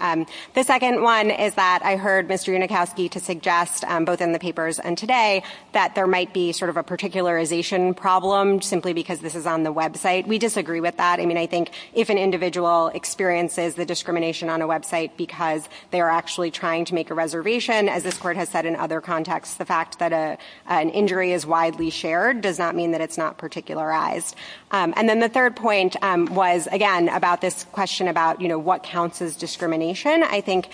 the second one is that I heard Mr. Unikowski to suggest, both in the papers and today, that there might be sort of a particularization problem simply because this is on the website. We disagree with that. I mean, I think if an individual experiences the discrimination on a website because they're actually trying to make a reservation, as this court has said in other contexts, the fact that an injury is widely shared does not mean that it's not particularized. And then the third point was again about this question about, you know, what counts as discrimination? I think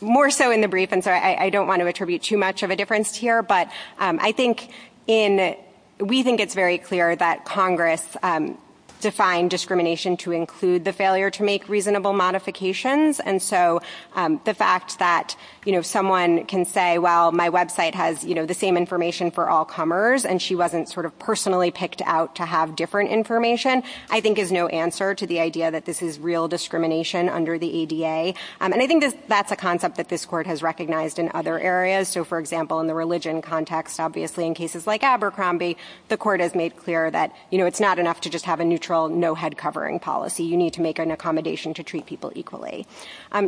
more so in the brief, and so I don't want to attribute too much of a difference here, but I think in, we think it's very clear that Congress defined discrimination to include the failure to make reasonable modifications. And so the fact that, you know, someone can say, well, my website has, you know, the same information for all comers and she wasn't sort of personally picked out to have different information, I think is no answer to the idea that this is real discrimination under the ADA. And I think that that's a concept that this court has recognized in other areas. So for example, in the religion context, obviously in cases like Abercrombie, the court has made clear that, you know, it's not enough to just have a neutral, no head covering policy. You need to make an accommodation to treat people equally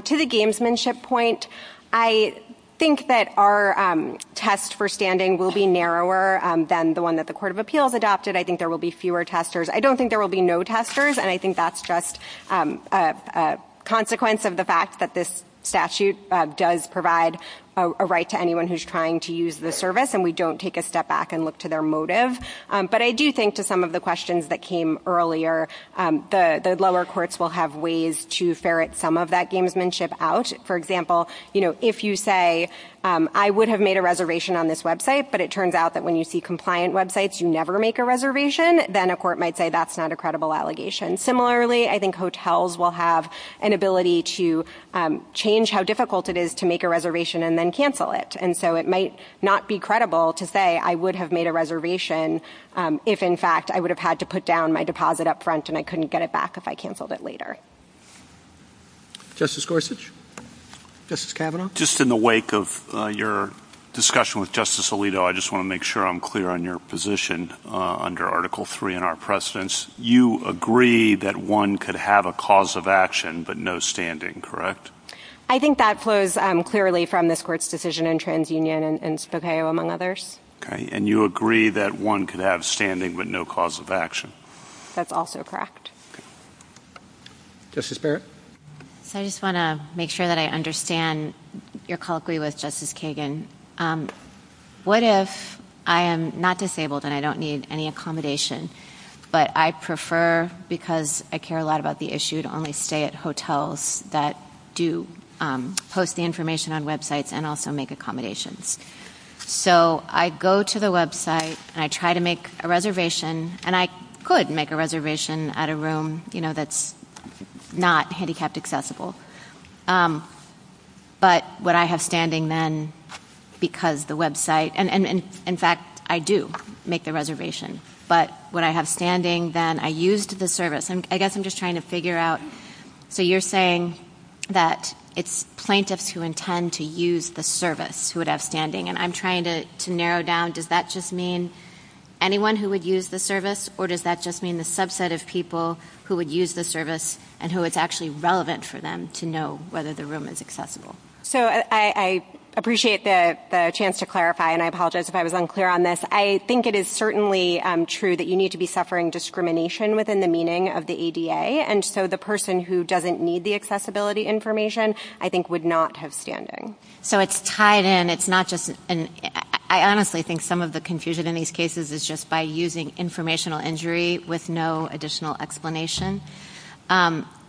to the gamesmanship point. I think that our test for standing will be narrower than the one that the court of appeals adopted. I think there will be fewer testers. I don't think there will be no testers. And I think that's just a consequence of the fact that this statute does provide a right to anyone who's trying to use the service. And we don't take a step back and look to their motive. But I do think to some of the questions that came earlier, the lower courts will have ways to ferret some of that gamesmanship out. For example, you know, if you say, I would have made a reservation on this website, but it turns out that when you see compliant websites, you never make a reservation. Then a court might say, that's not a credible allegation. Similarly, I think hotels will have an ability to change how difficult it is to make a reservation and then cancel it. And so it might not be credible to say I would have made a reservation. If in fact I would have had to put down my deposit up front and I couldn't get it back. If I canceled it later. Justice Gorsuch, Justice Kavanaugh. Just in the wake of your discussion with justice Alito, I just want to make sure I'm clear on your position under article three in our precedents. You agree that one could have a cause of action, but no standing, correct? I think that flows clearly from this court's decision in TransUnion and Spokane, among others. Okay. And you agree that one could have standing, but no cause of action. That's also correct. Justice Barrett. I just want to make sure that I understand your colloquy with justice Kagan. What if I am not disabled and I don't need any accommodation, but I prefer because I care a lot about the issue to only stay at hotels that do post the information on websites and also make accommodations. So I go to the website and I try to make a reservation and I could make a reservation at a room, you know, that's not handicapped accessible. But what I have standing then because the website and in fact, I do make the reservation, but what I have standing, then I used the service. And I guess I'm just trying to figure out, so you're saying that it's plaintiffs who intend to use the service who would have standing. And I'm trying to narrow down. Does that just mean anyone who would use the service or does that just mean the subset of people who would use the service and who it's actually relevant for to know whether the room is accessible. So I appreciate the chance to clarify and I apologize if I was unclear on this. I think it is certainly true that you need to be suffering discrimination within the meaning of the ADA. And so the person who doesn't need the accessibility information, I think would not have standing. So it's tied in. It's not just an, I honestly think some of the confusion in these cases is just by using informational injury with no additional explanation.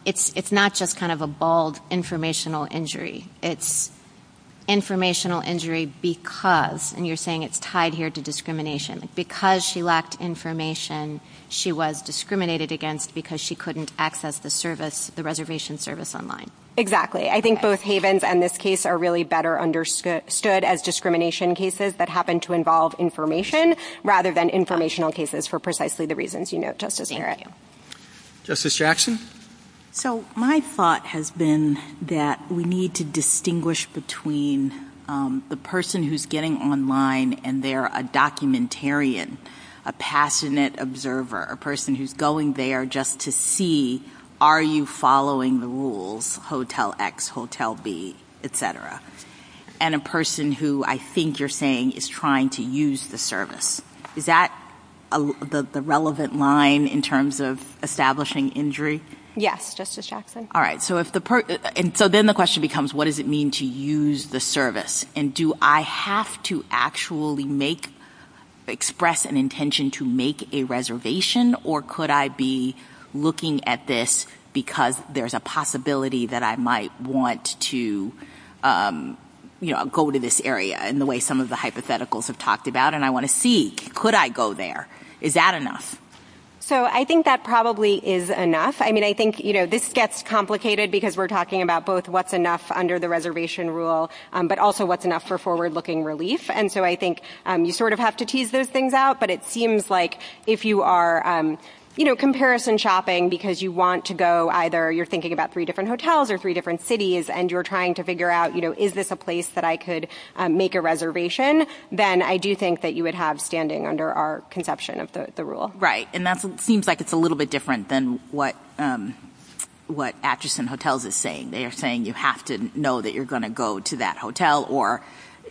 It's not just kind of a bald informational injury. It's informational injury because, and you're saying it's tied here to discrimination because she lacked information. She was discriminated against because she couldn't access the service, the reservation service online. Exactly. I think both havens and this case are really better understood as discrimination cases that happen to involve information rather than informational cases for precisely the reasons, you know, for the purpose of the hearing. Justice Jackson. So my thought has been that we need to distinguish between the person who's getting online and they're a documentarian, a passionate observer, a person who's going there just to see are you following the rules, hotel X, hotel B, et cetera. And a person who I think you're saying is trying to use the service. Is that the relevant line in terms of establishing injury? Yes, Justice Jackson. All right. And so then the question becomes what does it mean to use the service? And do I have to actually make, express an intention to make a reservation or could I be looking at this because there's a possibility that I might want to, you know, go to this area in the way some of the hypotheticals have talked about. And I want to see, could I go there? Is that enough? So I think that probably is enough. I mean, I think, you know, this gets complicated because we're talking about both what's enough under the reservation rule, but also what's enough for forward looking relief. And so I think you sort of have to tease those things out, but it seems like if you are, you know, comparison shopping because you want to go, either you're thinking about three different hotels or three different cities and you're trying to figure out, you know, is this a place that I could make a reservation? Then I do think that you would have standing under our conception of the rule. Right. And that seems like it's a little bit different than what, what Atchison Hotels is saying. They are saying you have to know that you're going to go to that hotel or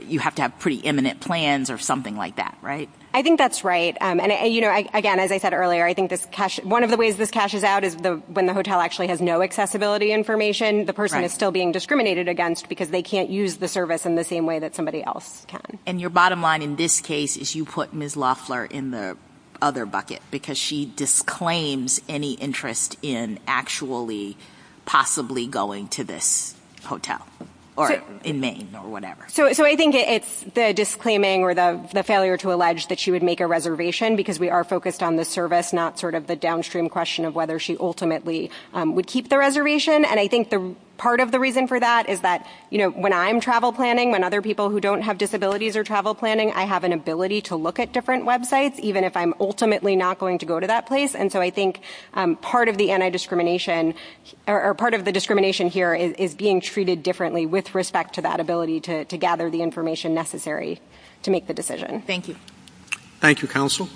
you have to have pretty imminent plans or something like that. Right. I think that's right. And, you know, I, again, as I said earlier, I think this cash, one of the ways this cashes out is the when the hotel actually has no accessibility information, the person is still being discriminated against because they can't use the service in the same way that somebody else can. And your bottom line in this case is you put Ms. Loeffler in the other bucket because she disclaims any interest in actually possibly going to this hotel or in Maine or whatever. So I think it's the disclaiming or the failure to allege that she would make a reservation because we are focused on the service, not sort of the downstream question of whether she ultimately would keep the reservation. And I think the part of the reason for that is that, you know, when I'm travel planning, when other people who don't have disabilities or travel planning, I have an ability to look at different websites, even if I'm ultimately not going to go to that place. And so I think part of the anti-discrimination or part of the discrimination here is being treated differently with respect to that ability to gather the information necessary to make the decision. Thank you. Thank you, counsel.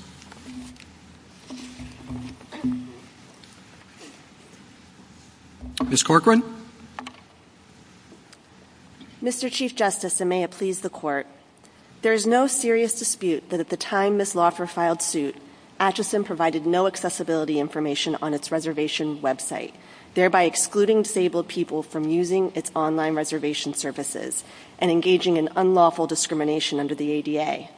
Ms. Corcoran. Mr. Chief Justice, and may it please the court. There is no serious dispute that at the time Ms. Loeffler filed suit, Atchison provided no accessibility information on its reservation website, thereby excluding disabled people from using its online reservation services and engaging in unlawful discrimination under the ADA.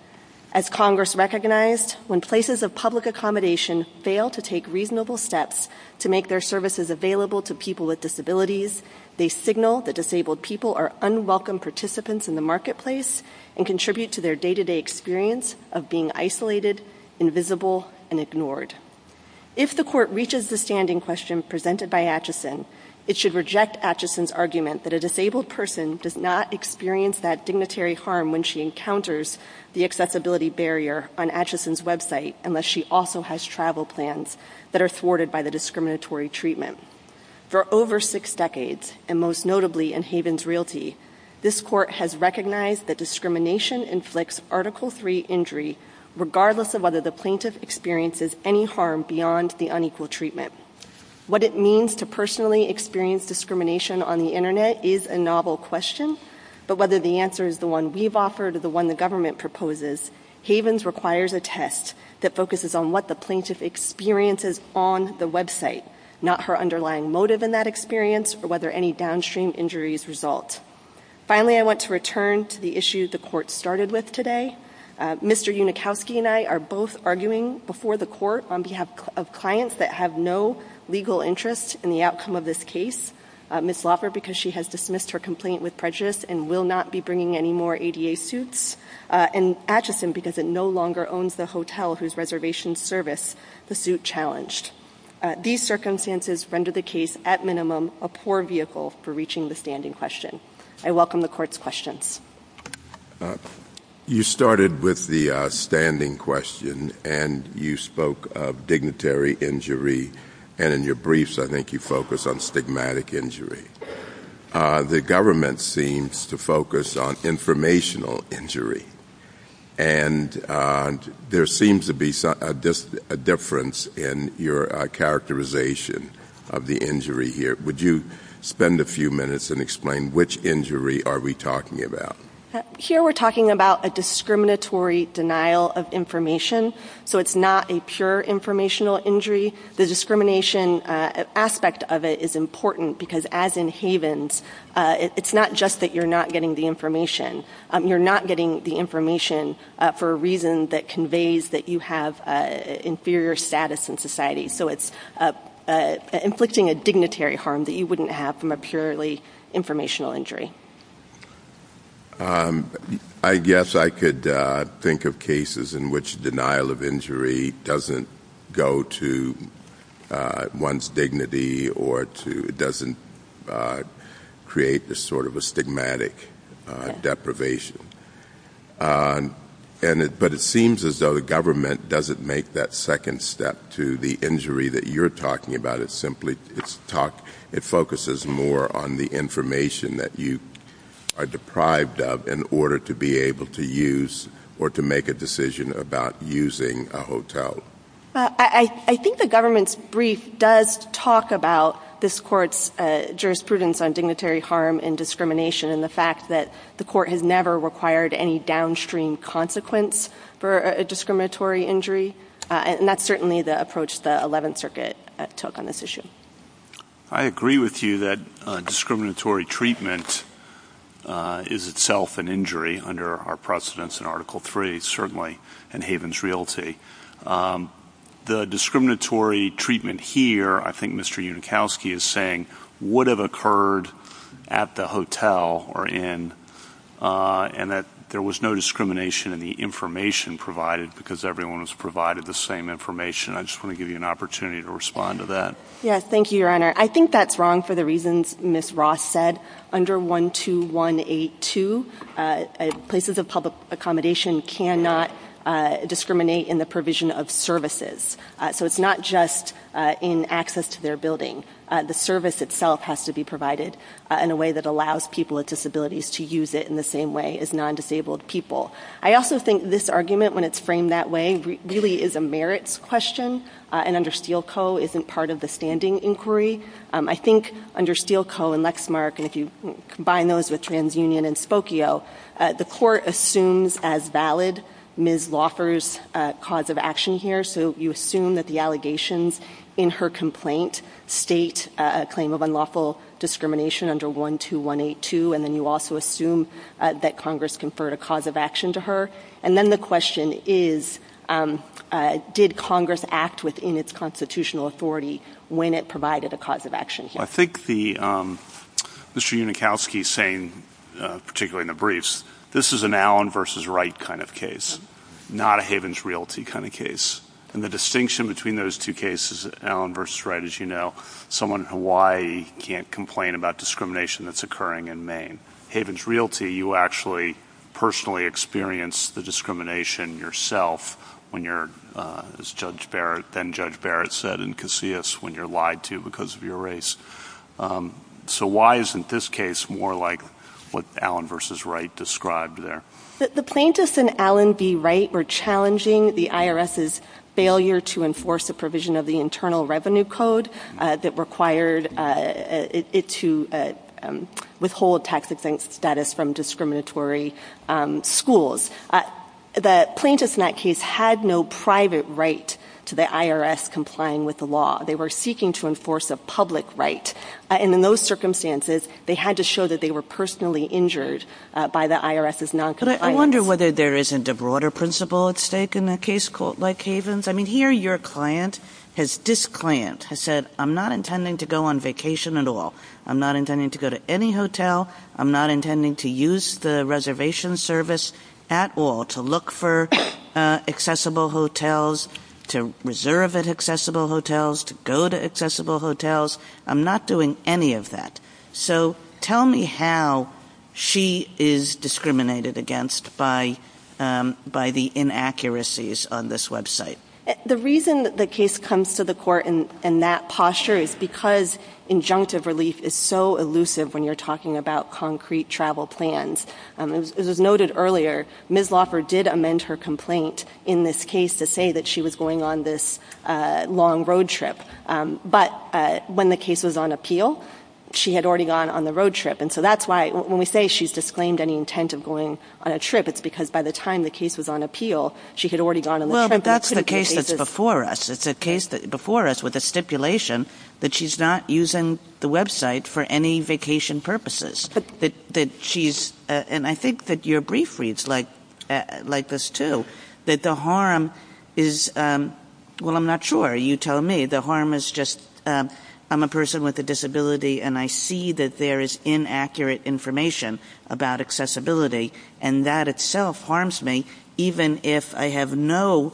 As Congress recognized when places of public accommodation fail to take reasonable steps to make their services available to people with disabilities, they signal that disabled people are unwelcome participants in the marketplace and contribute to their day-to-day experience of being isolated, invisible, and ignored. If the court reaches the standing question presented by Atchison, it should reject Atchison's argument that a disabled person does not experience that dignitary harm when she encounters the accessibility barrier on Atchison's website unless she also has travel plans that are thwarted by the discriminatory treatment. For over six decades, and most notably in Havens Realty, this court has recognized that discrimination inflicts Article III injury regardless of whether the plaintiff experiences any harm beyond the unequal treatment. What it means to personally experience discrimination on the Internet is a novel question, but whether the answer is the one we've offered or the one the government proposes, Havens requires a test that focuses on what the plaintiff experiences on the Internet and the underlying motive in that experience or whether any downstream injuries result. Finally, I want to return to the issues the court started with today. Mr. Unikowski and I are both arguing before the court on behalf of clients that have no legal interest in the outcome of this case. Ms. Laffer, because she has dismissed her complaint with prejudice and will not be bringing any more ADA suits, and Atchison because it no longer owns the hotel whose reservation service the suit challenged. These circumstances render the case, at minimum, a poor vehicle for reaching the standing question. I welcome the court's questions. You started with the standing question, and you spoke of dignitary injury, and in your briefs I think you focus on stigmatic injury. The government seems to focus on informational injury, and there seems to be a difference in your characterization of the injury here. Would you spend a few minutes and explain which injury are we talking about? Here we're talking about a discriminatory denial of information, so it's not a pure informational injury. The discrimination aspect of it is important because, as in Havens, it's not just that you're not getting the information. You're not getting the information for a reason that conveys that you have inferior status in society, so it's inflicting a dignitary harm that you wouldn't have from a purely informational injury. I guess I could think of cases in which denial of injury doesn't go to one's deprivation, but it seems as though the government doesn't make that second step to the injury that you're talking about. It simply focuses more on the information that you are deprived of in order to be able to use or to make a decision about using a hotel. I think the government's brief does talk about this court's jurisprudence on whether it has never required any downstream consequence for a discriminatory injury, and that's certainly the approach the 11th Circuit took on this issue. I agree with you that discriminatory treatment is itself an injury under our precedents in Article III, certainly in Havens Realty. The discriminatory treatment here, I think Mr. Unikowski is saying, would have occurred at the hotel and that there was no discrimination in the information provided because everyone was provided the same information. I just want to give you an opportunity to respond to that. Yes, thank you, Your Honor. I think that's wrong for the reasons Ms. Ross said. Under 12182, places of public accommodation cannot discriminate in the provision of services, so it's not just in access to their building. The service itself has to be provided in a way that allows people with disabilities to use it in the same way as non-disabled people. I also think this argument, when it's framed that way, really is a merits question, and under Steele Co. isn't part of the standing inquiry. I think under Steele Co. and Lexmark, and if you combine those with TransUnion and Spokio, the court assumes as valid Ms. Lauffer's cause of action here, so you assume that the allegations in her complaint state a claim of unlawful discrimination under 12182, and then you also assume that Congress conferred a cause of action to her. And then the question is, did Congress act within its constitutional authority when it provided the cause of action here? I think Mr. Unikowski is saying, particularly in the briefs, this is an Allen v. Wright kind of case, not a Havens Realty kind of case. And the distinction between those two cases, Allen v. Wright, as you know, someone in Hawaii can't complain about discrimination that's occurring in Maine. Havens Realty, you actually personally experience the discrimination yourself when you're, as Judge Barrett, then Judge Barrett, said in Casillas, when you're lied to because of your race. So why isn't this case more like what Allen v. Wright described there? The plaintiffs in Allen v. Wright were challenging the IRS's failure to enforce the provision of the Internal Revenue Code that required it to withhold tax-exempt status from discriminatory schools. The plaintiffs in that case had no private right to the IRS complying with the law. They were seeking to enforce a public right. And in those circumstances, they had to show that they were personally injured by the IRS's non-compliance. But I wonder whether there isn't a broader principle at stake in a case like Havens. I mean, here your client has disclaimed. I said, I'm not intending to go on vacation at all. I'm not intending to go to any hotel. I'm not intending to use the reservation service at all to look for accessible hotels, to reserve at accessible hotels, to go to accessible hotels. I'm not doing any of that. So tell me how she is discriminated against by the inaccuracies on this website. The reason that the case comes to the court in that posture is because injunctive release is so elusive when you're talking about concrete travel plans. As was noted earlier, Ms. Loffer did amend her complaint in this case to say that she was going on this long road trip. But when the case was on appeal, she had already gone on the road trip. And so that's why when we say she's disclaimed any intent of going on a trip, it's because by the time the case was on appeal, she had already gone on the trip. Well, that's the case that's before us. It's a case before us with a stipulation that she's not using the website for any vacation purposes, and I think that your brief reads like this too, that the harm is, well, I'm not sure. You tell me. The harm is just I'm a person with a disability and I see that there is inaccurate information about accessibility, and that itself harms me even if I have no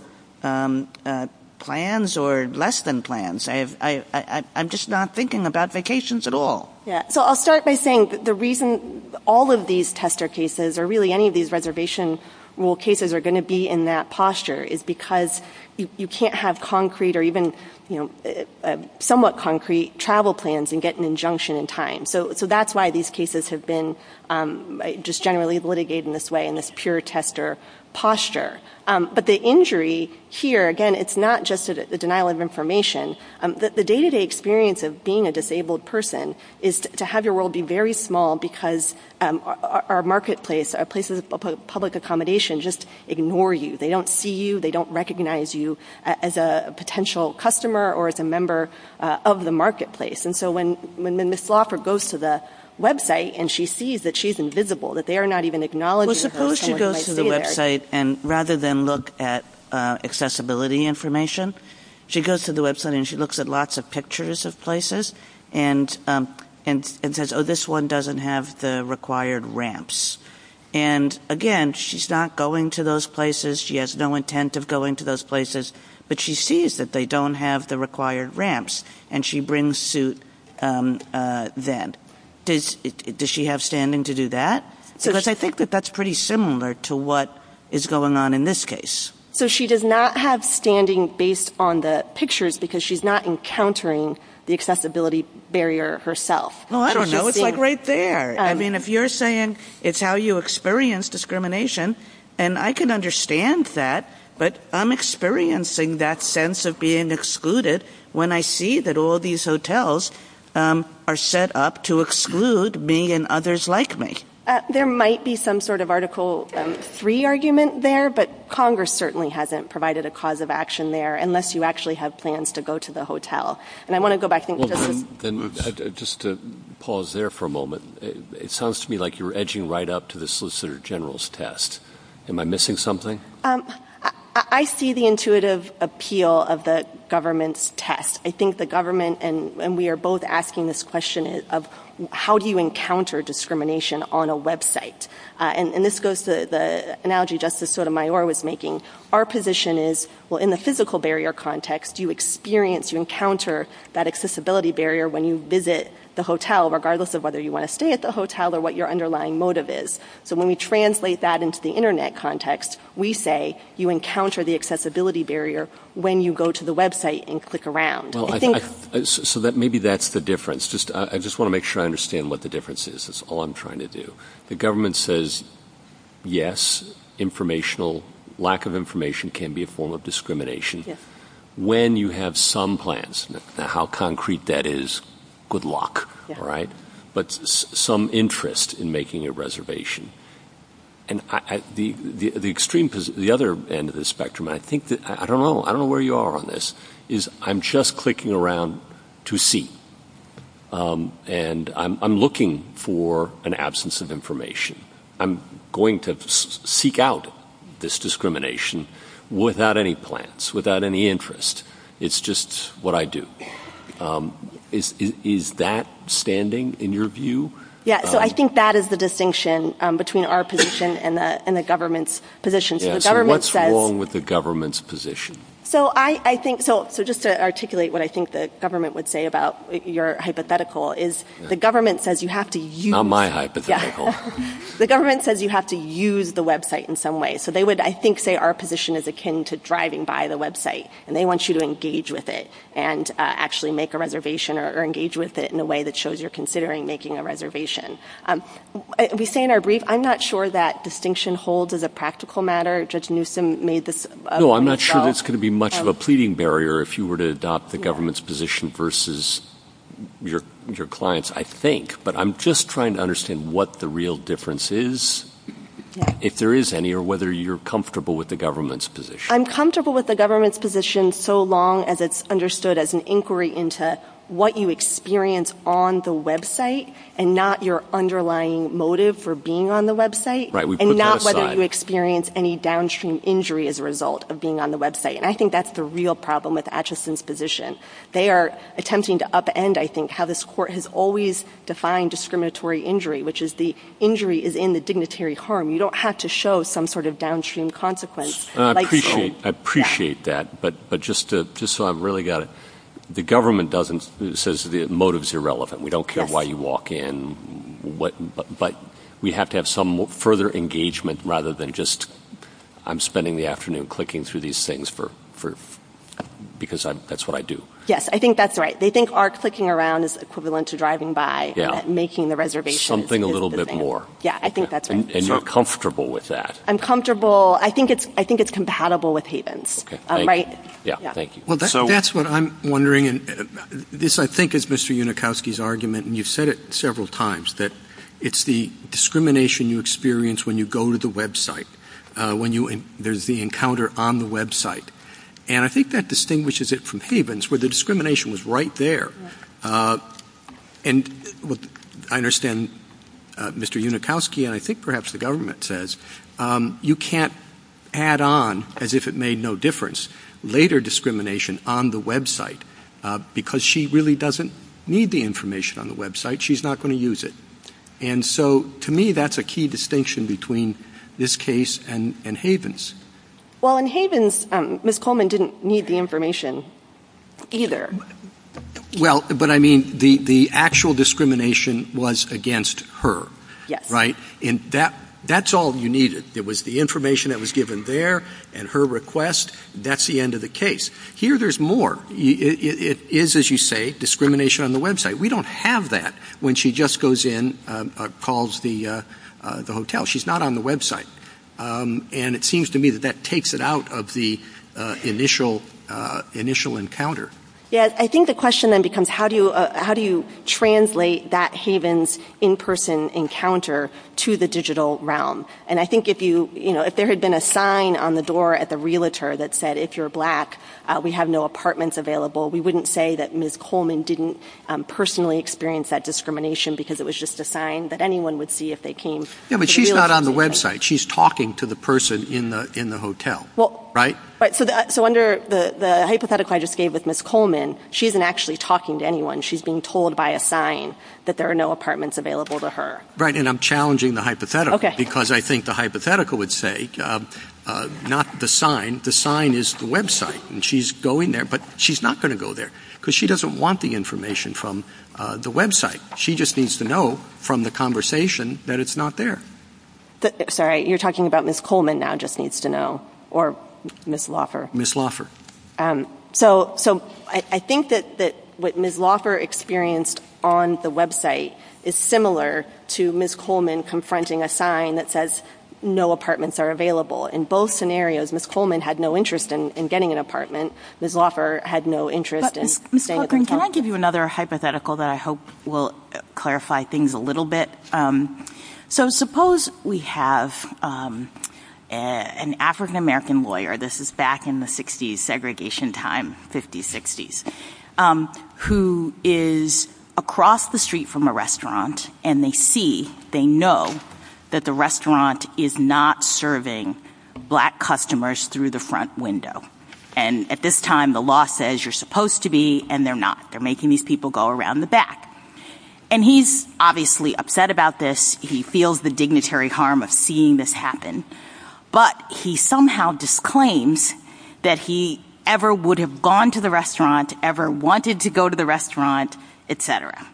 plans or less than plans. I'm just not thinking about vacations at all. So I'll start by saying that the reason all of these tester cases or really any of these reservation rule cases are going to be in that posture is because you can't have concrete or even somewhat concrete travel plans and get an injunction in time. So that's why these cases have been just generally litigated in this way in this pure tester posture. But the injury here, again, it's not just a denial of information. The day-to-day experience of being a disabled person is to have your world be very small because our marketplace, our places of public accommodation just ignore you. They don't see you. They don't recognize you as a potential customer or as a member of the marketplace. And so when Ms. Slaughter goes to the website and she sees that she's invisible, that they are not even acknowledging her. Well, suppose she goes to the website and rather than look at accessibility information, she goes to the website and she looks at lots of pictures of places and says, oh, this one doesn't have the required ramps. And, again, she's not going to those places. She has no intent of going to those places. But she sees that they don't have the required ramps, and she brings suit then. Does she have standing to do that? Because I think that that's pretty similar to what is going on in this case. So she does not have standing based on the pictures because she's not encountering the accessibility barrier herself. Well, I don't know. It's like right there. I mean, if you're saying it's how you experience discrimination, and I can understand that, but I'm experiencing that sense of being excluded when I see that all these hotels are set up to exclude me and others like me. There might be some sort of Article III argument there, but Congress certainly hasn't provided a cause of action there unless you actually have plans to go to the hotel. And I want to go back. Just to pause there for a moment, it sounds to me like you're edging right up to the Solicitor General's test. Am I missing something? I see the intuitive appeal of the government's test. I think the government, and we are both asking this question of how do you encounter discrimination on a website? And this goes to the analogy Justice Sotomayor was making. Our position is, well, in the physical barrier context, you experience, you encounter that accessibility barrier when you visit the hotel, regardless of whether you want to stay at the hotel or what your underlying motive is. So when we translate that into the Internet context, we say you encounter the accessibility barrier when you go to the website and click around. So maybe that's the difference. I just want to make sure I understand what the difference is. That's all I'm trying to do. The government says, yes, lack of information can be a form of discrimination. When you have some plans, how concrete that is, good luck. But some interest in making a reservation. And the other end of the spectrum, and I don't know where you are on this, is I'm just clicking around to see. And I'm looking for an absence of information. I'm going to seek out this discrimination without any plans, without any interest. It's just what I do. Is that standing in your view? I think that is the distinction between our position and the government's position. What's wrong with the government's position? So just to articulate what I think the government would say about your hypothetical, is the government says you have to use the website in some way. So I think our position is akin to driving by the website, and they want you to engage with it and actually make a reservation or engage with it in a way that shows you're considering making a reservation. We say in our brief, I'm not sure that distinction holds as a practical matter. No, I'm not sure that's going to be much of a pleading barrier if you were to adopt the government's position versus your client's, I think. But I'm just trying to understand what the real difference is, if there is any, or whether you're comfortable with the government's position. I'm comfortable with the government's position so long as it's understood as an inquiry into what you experience on the website and not your underlying motive for being on the website, and not whether you experience any downstream injury as a result of being on the website. And I think that's the real problem with Atchison's position. They are attempting to upend, I think, how this court has always defined discriminatory injury, which is the injury is in the dignitary harm. You don't have to show some sort of downstream consequence. I appreciate that, but just so I've really got it, the government says the motive's irrelevant. We don't care why you walk in. But we have to have some further engagement rather than just I'm spending the afternoon clicking through these things because that's what I do. Yes, I think that's right. They think our clicking around is equivalent to driving by and making the reservation. Something a little bit more. Yeah, I think that's it. And you're comfortable with that. I'm comfortable. I think it's compatible with Haven's. Thank you. I think you said it several times that it's the discrimination you experience when you go to the website, when there's the encounter on the website. And I think that distinguishes it from Haven's where the discrimination was right there. And I understand Mr. Unikowski and I think perhaps the government says you can't add on, as if it made no difference, later discrimination on the website because she really doesn't need the information on the website. She's not going to use it. And so, to me, that's a key distinction between this case and Haven's. Well, in Haven's, Ms. Coleman didn't need the information either. Well, but I mean the actual discrimination was against her. Yes. Right? And that's all you needed. It was the information that was given there and her request. That's the end of the case. Here there's more. It is, as you say, discrimination on the website. We don't have that when she just goes in, calls the hotel. She's not on the website. And it seems to me that that takes it out of the initial encounter. Yes. I think the question then becomes how do you translate that Haven's in-person encounter to the digital realm? And I think if there had been a sign on the door at the realtor that said, if you're black, we have no apartments available, we wouldn't say that Ms. Coleman didn't personally experience that discrimination because it was just a sign that anyone would see if they came. Yes, but she's not on the website. She's talking to the person in the hotel. Right? So under the hypothetical I just gave with Ms. Coleman, she isn't actually talking to anyone. She's being told by a sign that there are no apartments available to her. Right, and I'm challenging the hypothetical because I think the hypothetical would say, not the sign, the sign is the website and she's going there, but she's not going to go there because she doesn't want the information from the website. She just needs to know from the conversation that it's not there. Sorry, you're talking about Ms. Coleman now just needs to know or Ms. Lauffer. Ms. Lauffer. So I think that what Ms. Lauffer experienced on the website is similar to Ms. Coleman confronting a sign that says no apartments are available. In both scenarios, Ms. Coleman had no interest in getting an apartment. Ms. Lauffer had no interest in staying at the hotel. Can I give you another hypothetical that I hope will clarify things a little bit? So suppose we have an African-American lawyer. This is back in the 60s, segregation time, 50s, 60s, who is across the street from a restaurant and they see, they know, that the restaurant is not serving black customers through the front window. And at this time the law says you're supposed to be and they're not. They're making these people go around the back. And he's obviously upset about this. He feels the dignitary harm of seeing this happen. But he somehow disclaims that he ever would have gone to the restaurant, ever wanted to go to the restaurant, et cetera.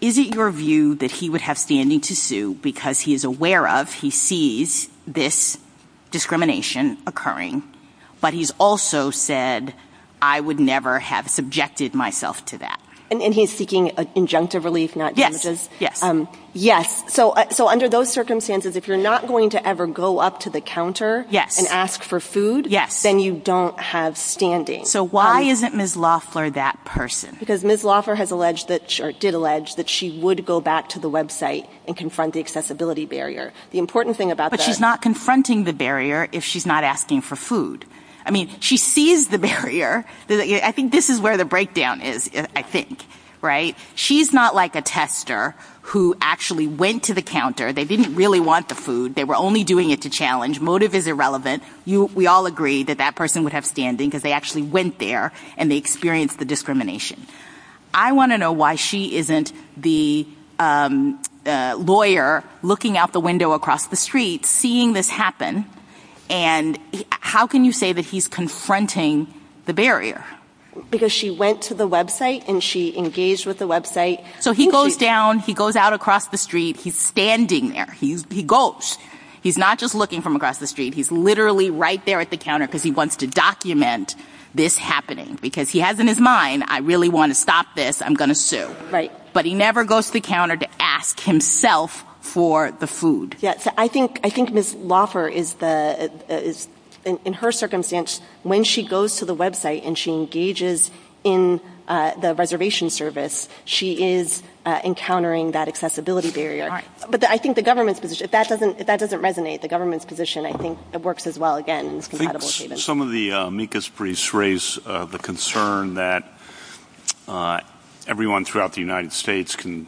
Is it your view that he would have standing to sue because he's aware of, he sees this discrimination occurring, but he's also said, I would never have subjected myself to that. And he's seeking injunctive relief, not damages. Yes. So under those circumstances, if you're not going to ever go up to the counter and ask for food, then you don't have standing. So why isn't Ms. Lauffer that person? Because Ms. Lauffer did allege that she would go back to the website and confront the accessibility barrier. But she's not confronting the barrier if she's not asking for food. I mean, she sees the barrier. I think this is where the breakdown is, I think. She's not like a tester who actually went to the counter. They didn't really want the food. They were only doing it to challenge. Motive is irrelevant. We all agree that that person would have standing because they actually went there and they experienced the discrimination. I want to know why she isn't the lawyer looking out the window across the street, seeing this happen, and how can you say that he's confronting the barrier? Because she went to the website and she engaged with the website. So he goes down, he goes out across the street, he's standing there. He goes. He's not just looking from across the street. He's literally right there at the counter because he wants to document this happening because he has in his mind, I really want to stop this, I'm going to sue. Right. But he never goes to the counter to ask himself for the food. I think Ms. Loffer is, in her circumstance, when she goes to the website and she engages in the reservation service, she is encountering that accessibility barrier. Right. But I think the government's position, if that doesn't resonate, the government's position, I think it works as well again. Some of the amicus briefs raise the concern that everyone throughout the United States can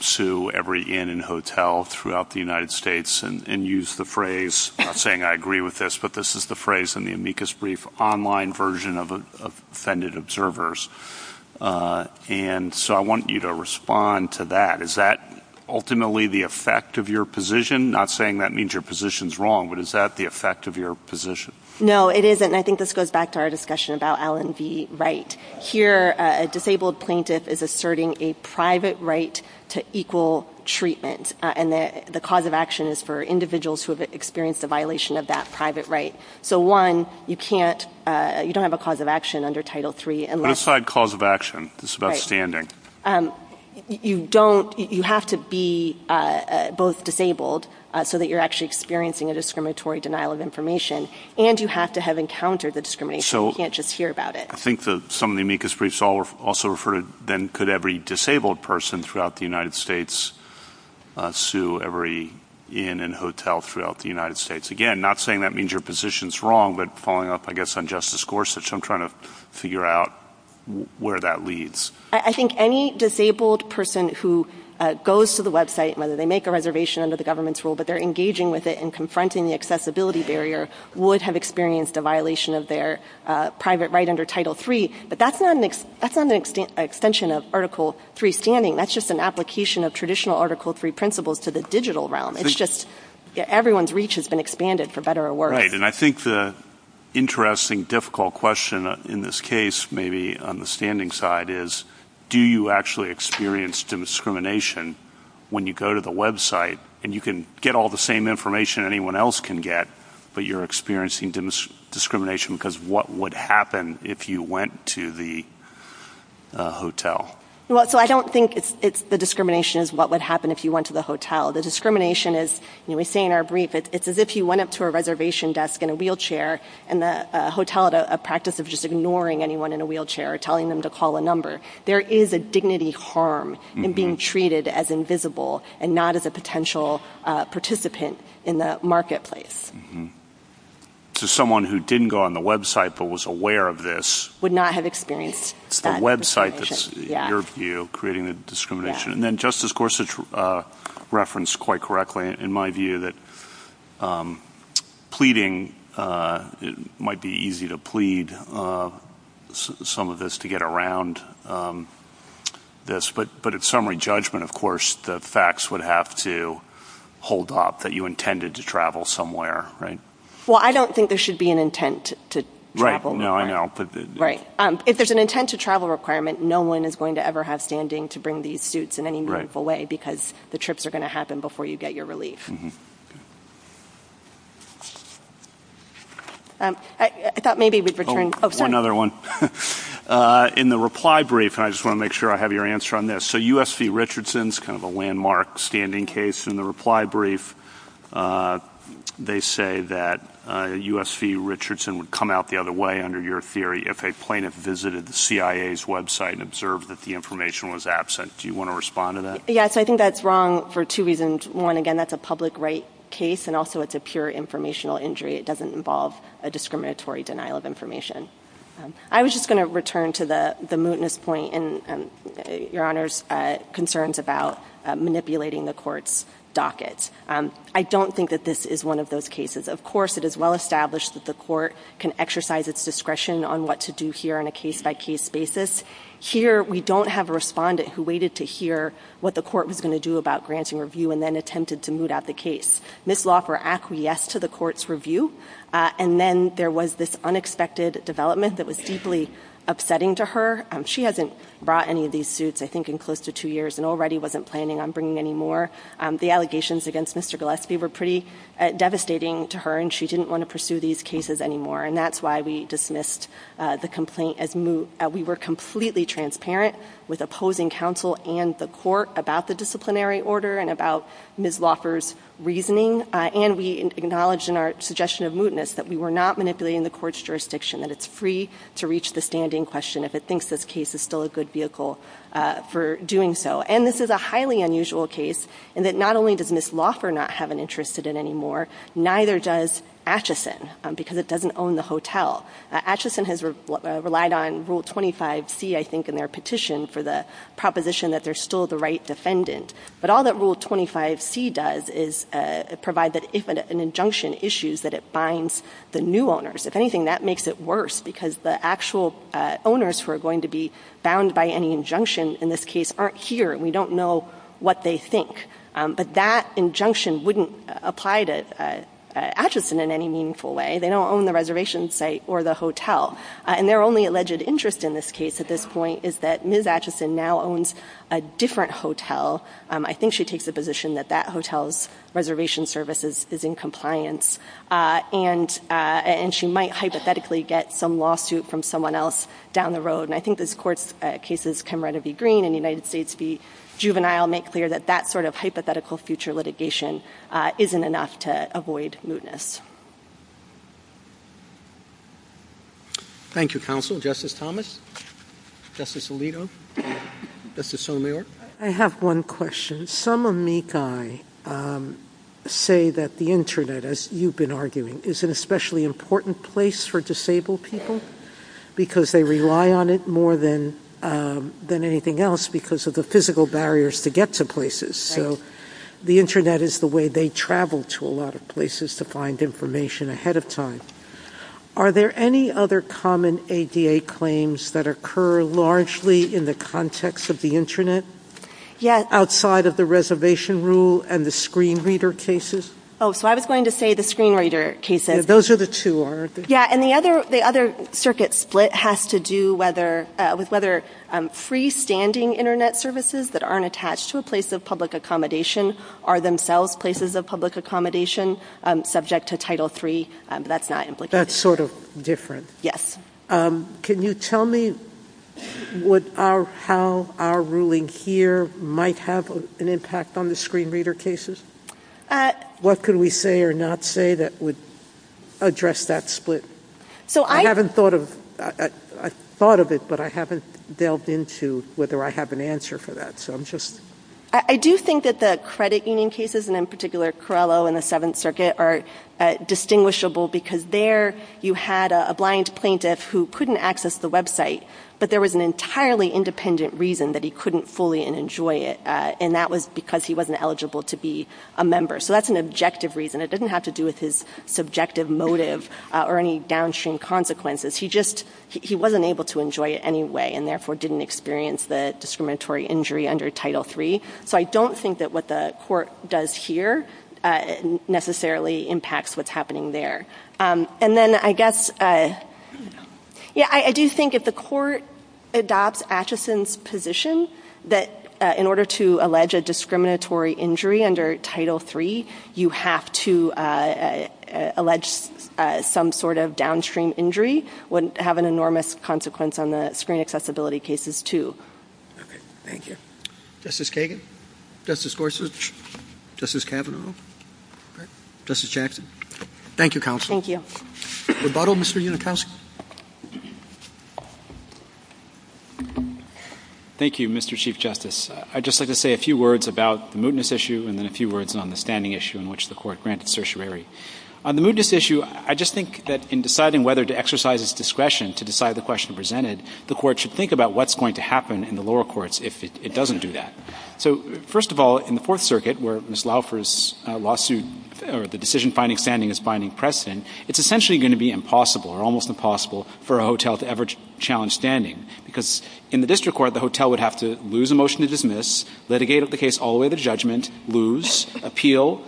sue every inn and hotel throughout the United States and use the phrase, I'm not saying I agree with this, but this is the phrase in the amicus brief, online version of offended observers. And so I want you to respond to that. Is that ultimately the effect of your position? I'm not saying that means your position is wrong, but is that the effect of your position? No, it isn't. And I think this goes back to our discussion about Allen v. Wright. Here a disabled plaintiff is asserting a private right to equal treatment, and the cause of action is for individuals who have experienced a violation of that private right. So, one, you can't – you don't have a cause of action under Title III unless – Outside cause of action. Right. It's about standing. You don't – you have to be both disabled so that you're actually experiencing a discriminatory denial of information, and you have to have encountered the discrimination. You can't just hear about it. I think the – some of the amicus briefs also refer to then could every disabled person throughout the United States sue every inn and hotel throughout the United States. Again, not saying that means your position is wrong, but following up, I guess, on Justice Gorsuch. I'm trying to figure out where that leads. I think any disabled person who goes to the website, whether they make a reservation under the government's rule, but they're engaging with it and confronting the accessibility barrier, would have experienced a violation of their private right under Title III. But that's not an extension of Article III standing. That's just an application of traditional Article III principles to the digital realm. It's just – everyone's reach has been expanded for better or worse. Right, and I think the interesting, difficult question in this case, maybe on the standing side, is do you actually experience discrimination when you go to the website and you can get all the same information anyone else can get, but you're experiencing discrimination because what would happen if you went to the hotel? Well, so I don't think the discrimination is what would happen if you went to the hotel. The discrimination is – we say in our brief, it's as if you went up to a reservation desk in a wheelchair and the hotel had a practice of just ignoring anyone in a wheelchair or telling them to call a number. There is a dignity harm in being treated as invisible and not as a potential participant in the marketplace. So someone who didn't go on the website but was aware of this. Would not have experienced that. It's the website that's, in your view, creating the discrimination. And then Justice Gorsuch referenced quite correctly in my view that pleading – it might be easy to plead some of this to get around this, but at summary judgment, of course, the facts would have to hold up that you intended to travel somewhere, right? Well, I don't think there should be an intent to travel. Right. No, I know. Right. If there's an intent to travel requirement, no one is going to ever have standing to bring these suits in any meaningful way because the trips are going to happen before you get your relief. I thought maybe we'd return – One other one. In the reply brief – and I just want to make sure I have your answer on this – so U.S. v. Richardson is kind of a landmark standing case. In the reply brief, they say that U.S. v. Richardson would come out the other way, under your theory, if a plaintiff visited the CIA's website and observed that the information was absent. Do you want to respond to that? Yes. I think that's wrong for two reasons. One, again, that's a public right case, and also it's a pure informational injury. It doesn't involve a discriminatory denial of information. I was just going to return to the mootness point in Your Honor's concerns about manipulating the court's docket. I don't think that this is one of those cases. Of course, it is well established that the court can exercise its discretion on what to do here on a case-by-case basis. Here, we don't have a respondent who waited to hear what the court was going to do about granting review and then attempted to moot out the case. Ms. Loft were acquiesced to the court's review, and then there was this unexpected development that was deeply upsetting to her. She hasn't brought any of these suits, I think, in close to two years and already wasn't planning on bringing any more. The allegations against Mr. Gillespie were pretty devastating to her, and she didn't want to pursue these cases anymore, and that's why we dismissed the complaint as moot. We were completely transparent with opposing counsel and the court about the disciplinary order and about Ms. Loft's reasoning, and we acknowledged in our suggestion of mootness that we were not manipulating the court's jurisdiction, that it's free to reach the standing question if it thinks this case is still a good vehicle for doing so. And this is a highly unusual case in that not only does Ms. Loft not have an interest in it anymore, neither does Acheson because it doesn't own the hotel. Acheson has relied on Rule 25C, I think, in their petition for the proposition that they're still the right defendant, but all that Rule 25C does is provide that if an injunction issues that it binds the new owners. If anything, that makes it worse because the actual owners who are going to be bound by any injunction in this case aren't here, and we don't know what they think. But that injunction wouldn't apply to Acheson in any meaningful way. They don't own the reservation site or the hotel, and their only alleged interest in this case at this point is that Ms. Acheson now owns a different hotel. I think she takes the position that that hotel's reservation services is in compliance, and she might hypothetically get some lawsuit from someone else down the road. And I think this court's cases, Camreta v. Green and United States v. Juvenile, make clear that that sort of hypothetical future litigation isn't enough to avoid mootness. Thank you, counsel. Justice Thomas? Justice Alito? Justice O'Meara? I have one question. Some of MECI say that the Internet, as you've been arguing, is an especially important place for disabled people because they rely on it more than anything else because of the physical barriers to get to places. So the Internet is the way they travel to a lot of places to find information ahead of time. Are there any other common ADA claims that occur largely in the context of the Internet outside of the reservation rule and the screen reader cases? Oh, so I was going to say the screen reader cases. Yeah, those are the two, aren't they? Yeah, and the other circuit split has to do with whether freestanding Internet services that aren't attached to a place of public accommodation are themselves places of public accommodation subject to Title III. That's not implicated. That's sort of different. Yes. Can you tell me how our ruling here might have an impact on the screen reader cases? What could we say or not say that would address that split? I haven't thought of it, but I haven't delved into whether I have an answer for that. I do think that the credit union cases, and in particular Corello and the Seventh Circuit, are distinguishable because there you had a blind plaintiff who couldn't access the website, but there was an entirely independent reason that he couldn't fully enjoy it, and that was because he wasn't eligible to be a member. So that's an objective reason. It doesn't have to do with his subjective motive or any downstream consequences. He wasn't able to enjoy it anyway and therefore didn't experience the discriminatory injury under Title III. So I don't think that what the court does here necessarily impacts what's happening there. And then I guess... Yeah, I do think if the court adopts Atchison's position that in order to allege a discriminatory injury under Title III, you have to allege some sort of downstream injury would have an enormous consequence on the screen accessibility cases too. Thank you. Justice Kagan? Justice Gorsuch? Justice Kavanaugh? Justice Jackson? Thank you, counsel. Thank you. The bottle, Mr. Unicost. Thank you, Mr. Chief Justice. I'd just like to say a few words about the mootness issue and then a few words on the standing issue in which the court granted certiorari. On the mootness issue, I just think that in deciding whether to exercise its discretion to decide the question presented, the court should think about what's going to happen in the lower courts if it doesn't do that. So, first of all, in the Fourth Circuit, where Ms. Laufer's decision finding standing is binding precedent, it's essentially going to be impossible or almost impossible for a hotel to ever challenge standing because in the district court, the hotel would have to lose a motion to dismiss, litigate the case all the way to judgment, lose, appeal,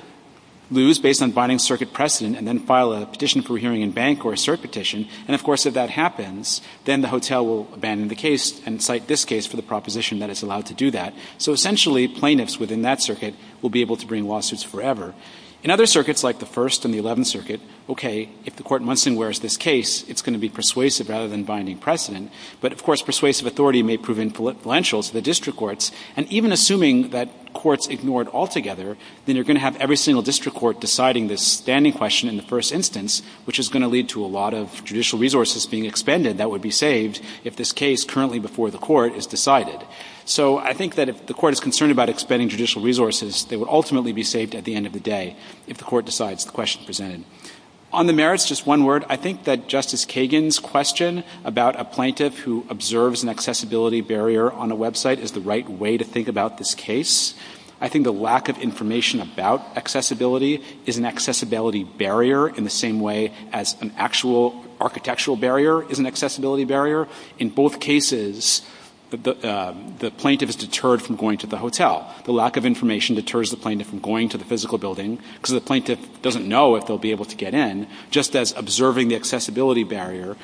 lose based on binding circuit precedent and then file a petition for a hearing in bank or a cert petition. And, of course, if that happens, then the hotel will abandon the case and cite this case for the proposition that it's allowed to do that. So, essentially, plaintiffs within that circuit will be able to bring lawsuits forever. In other circuits, like the First and the Eleventh Circuit, okay, if the court wants and wears this case, it's going to be persuasive rather than binding precedent. But, of course, persuasive authority may prove influential to the district courts and even assuming that courts ignore it altogether, then you're going to have every single district court deciding this standing question in the first instance, which is going to lead to a lot of judicial resources being expended that would be saved if this case currently before the court is decided. So, I think that if the court is concerned about expending judicial resources, they would ultimately be saved at the end of the day if the court decides the question is presented. On the merits, just one word. I think that Justice Kagan's question about a plaintiff who observes an accessibility barrier on a website is the right way to think about this case. I think the lack of information about accessibility is an accessibility barrier in the same way as an actual architectural barrier is an accessibility barrier. In both cases, the plaintiff is deterred from going to the hotel. The lack of information deters the plaintiff from going to the physical building because the plaintiff doesn't know if they'll be able to get in, just as observing the accessibility barrier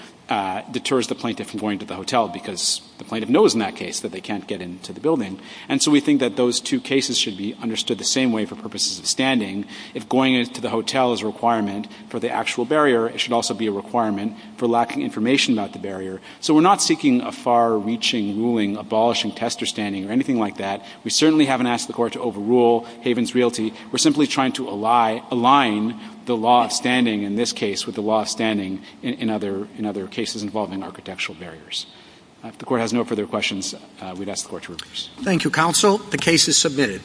deters the plaintiff from going to the hotel because the plaintiff knows in that case that they can't get into the building. And so we think that those two cases should be understood the same way for purposes of standing. If going to the hotel is a requirement for the actual barrier, it should also be a requirement for lacking information about the barrier. So we're not seeking a far-reaching, ruling, abolishing tester standing or anything like that. We certainly haven't asked the court to overrule Haven's Realty. We're simply trying to align the law of standing in this case with the law of standing in other cases involving architectural barriers. If the court has no further questions, we'd ask the court to recuse. Thank you, counsel. The case is submitted.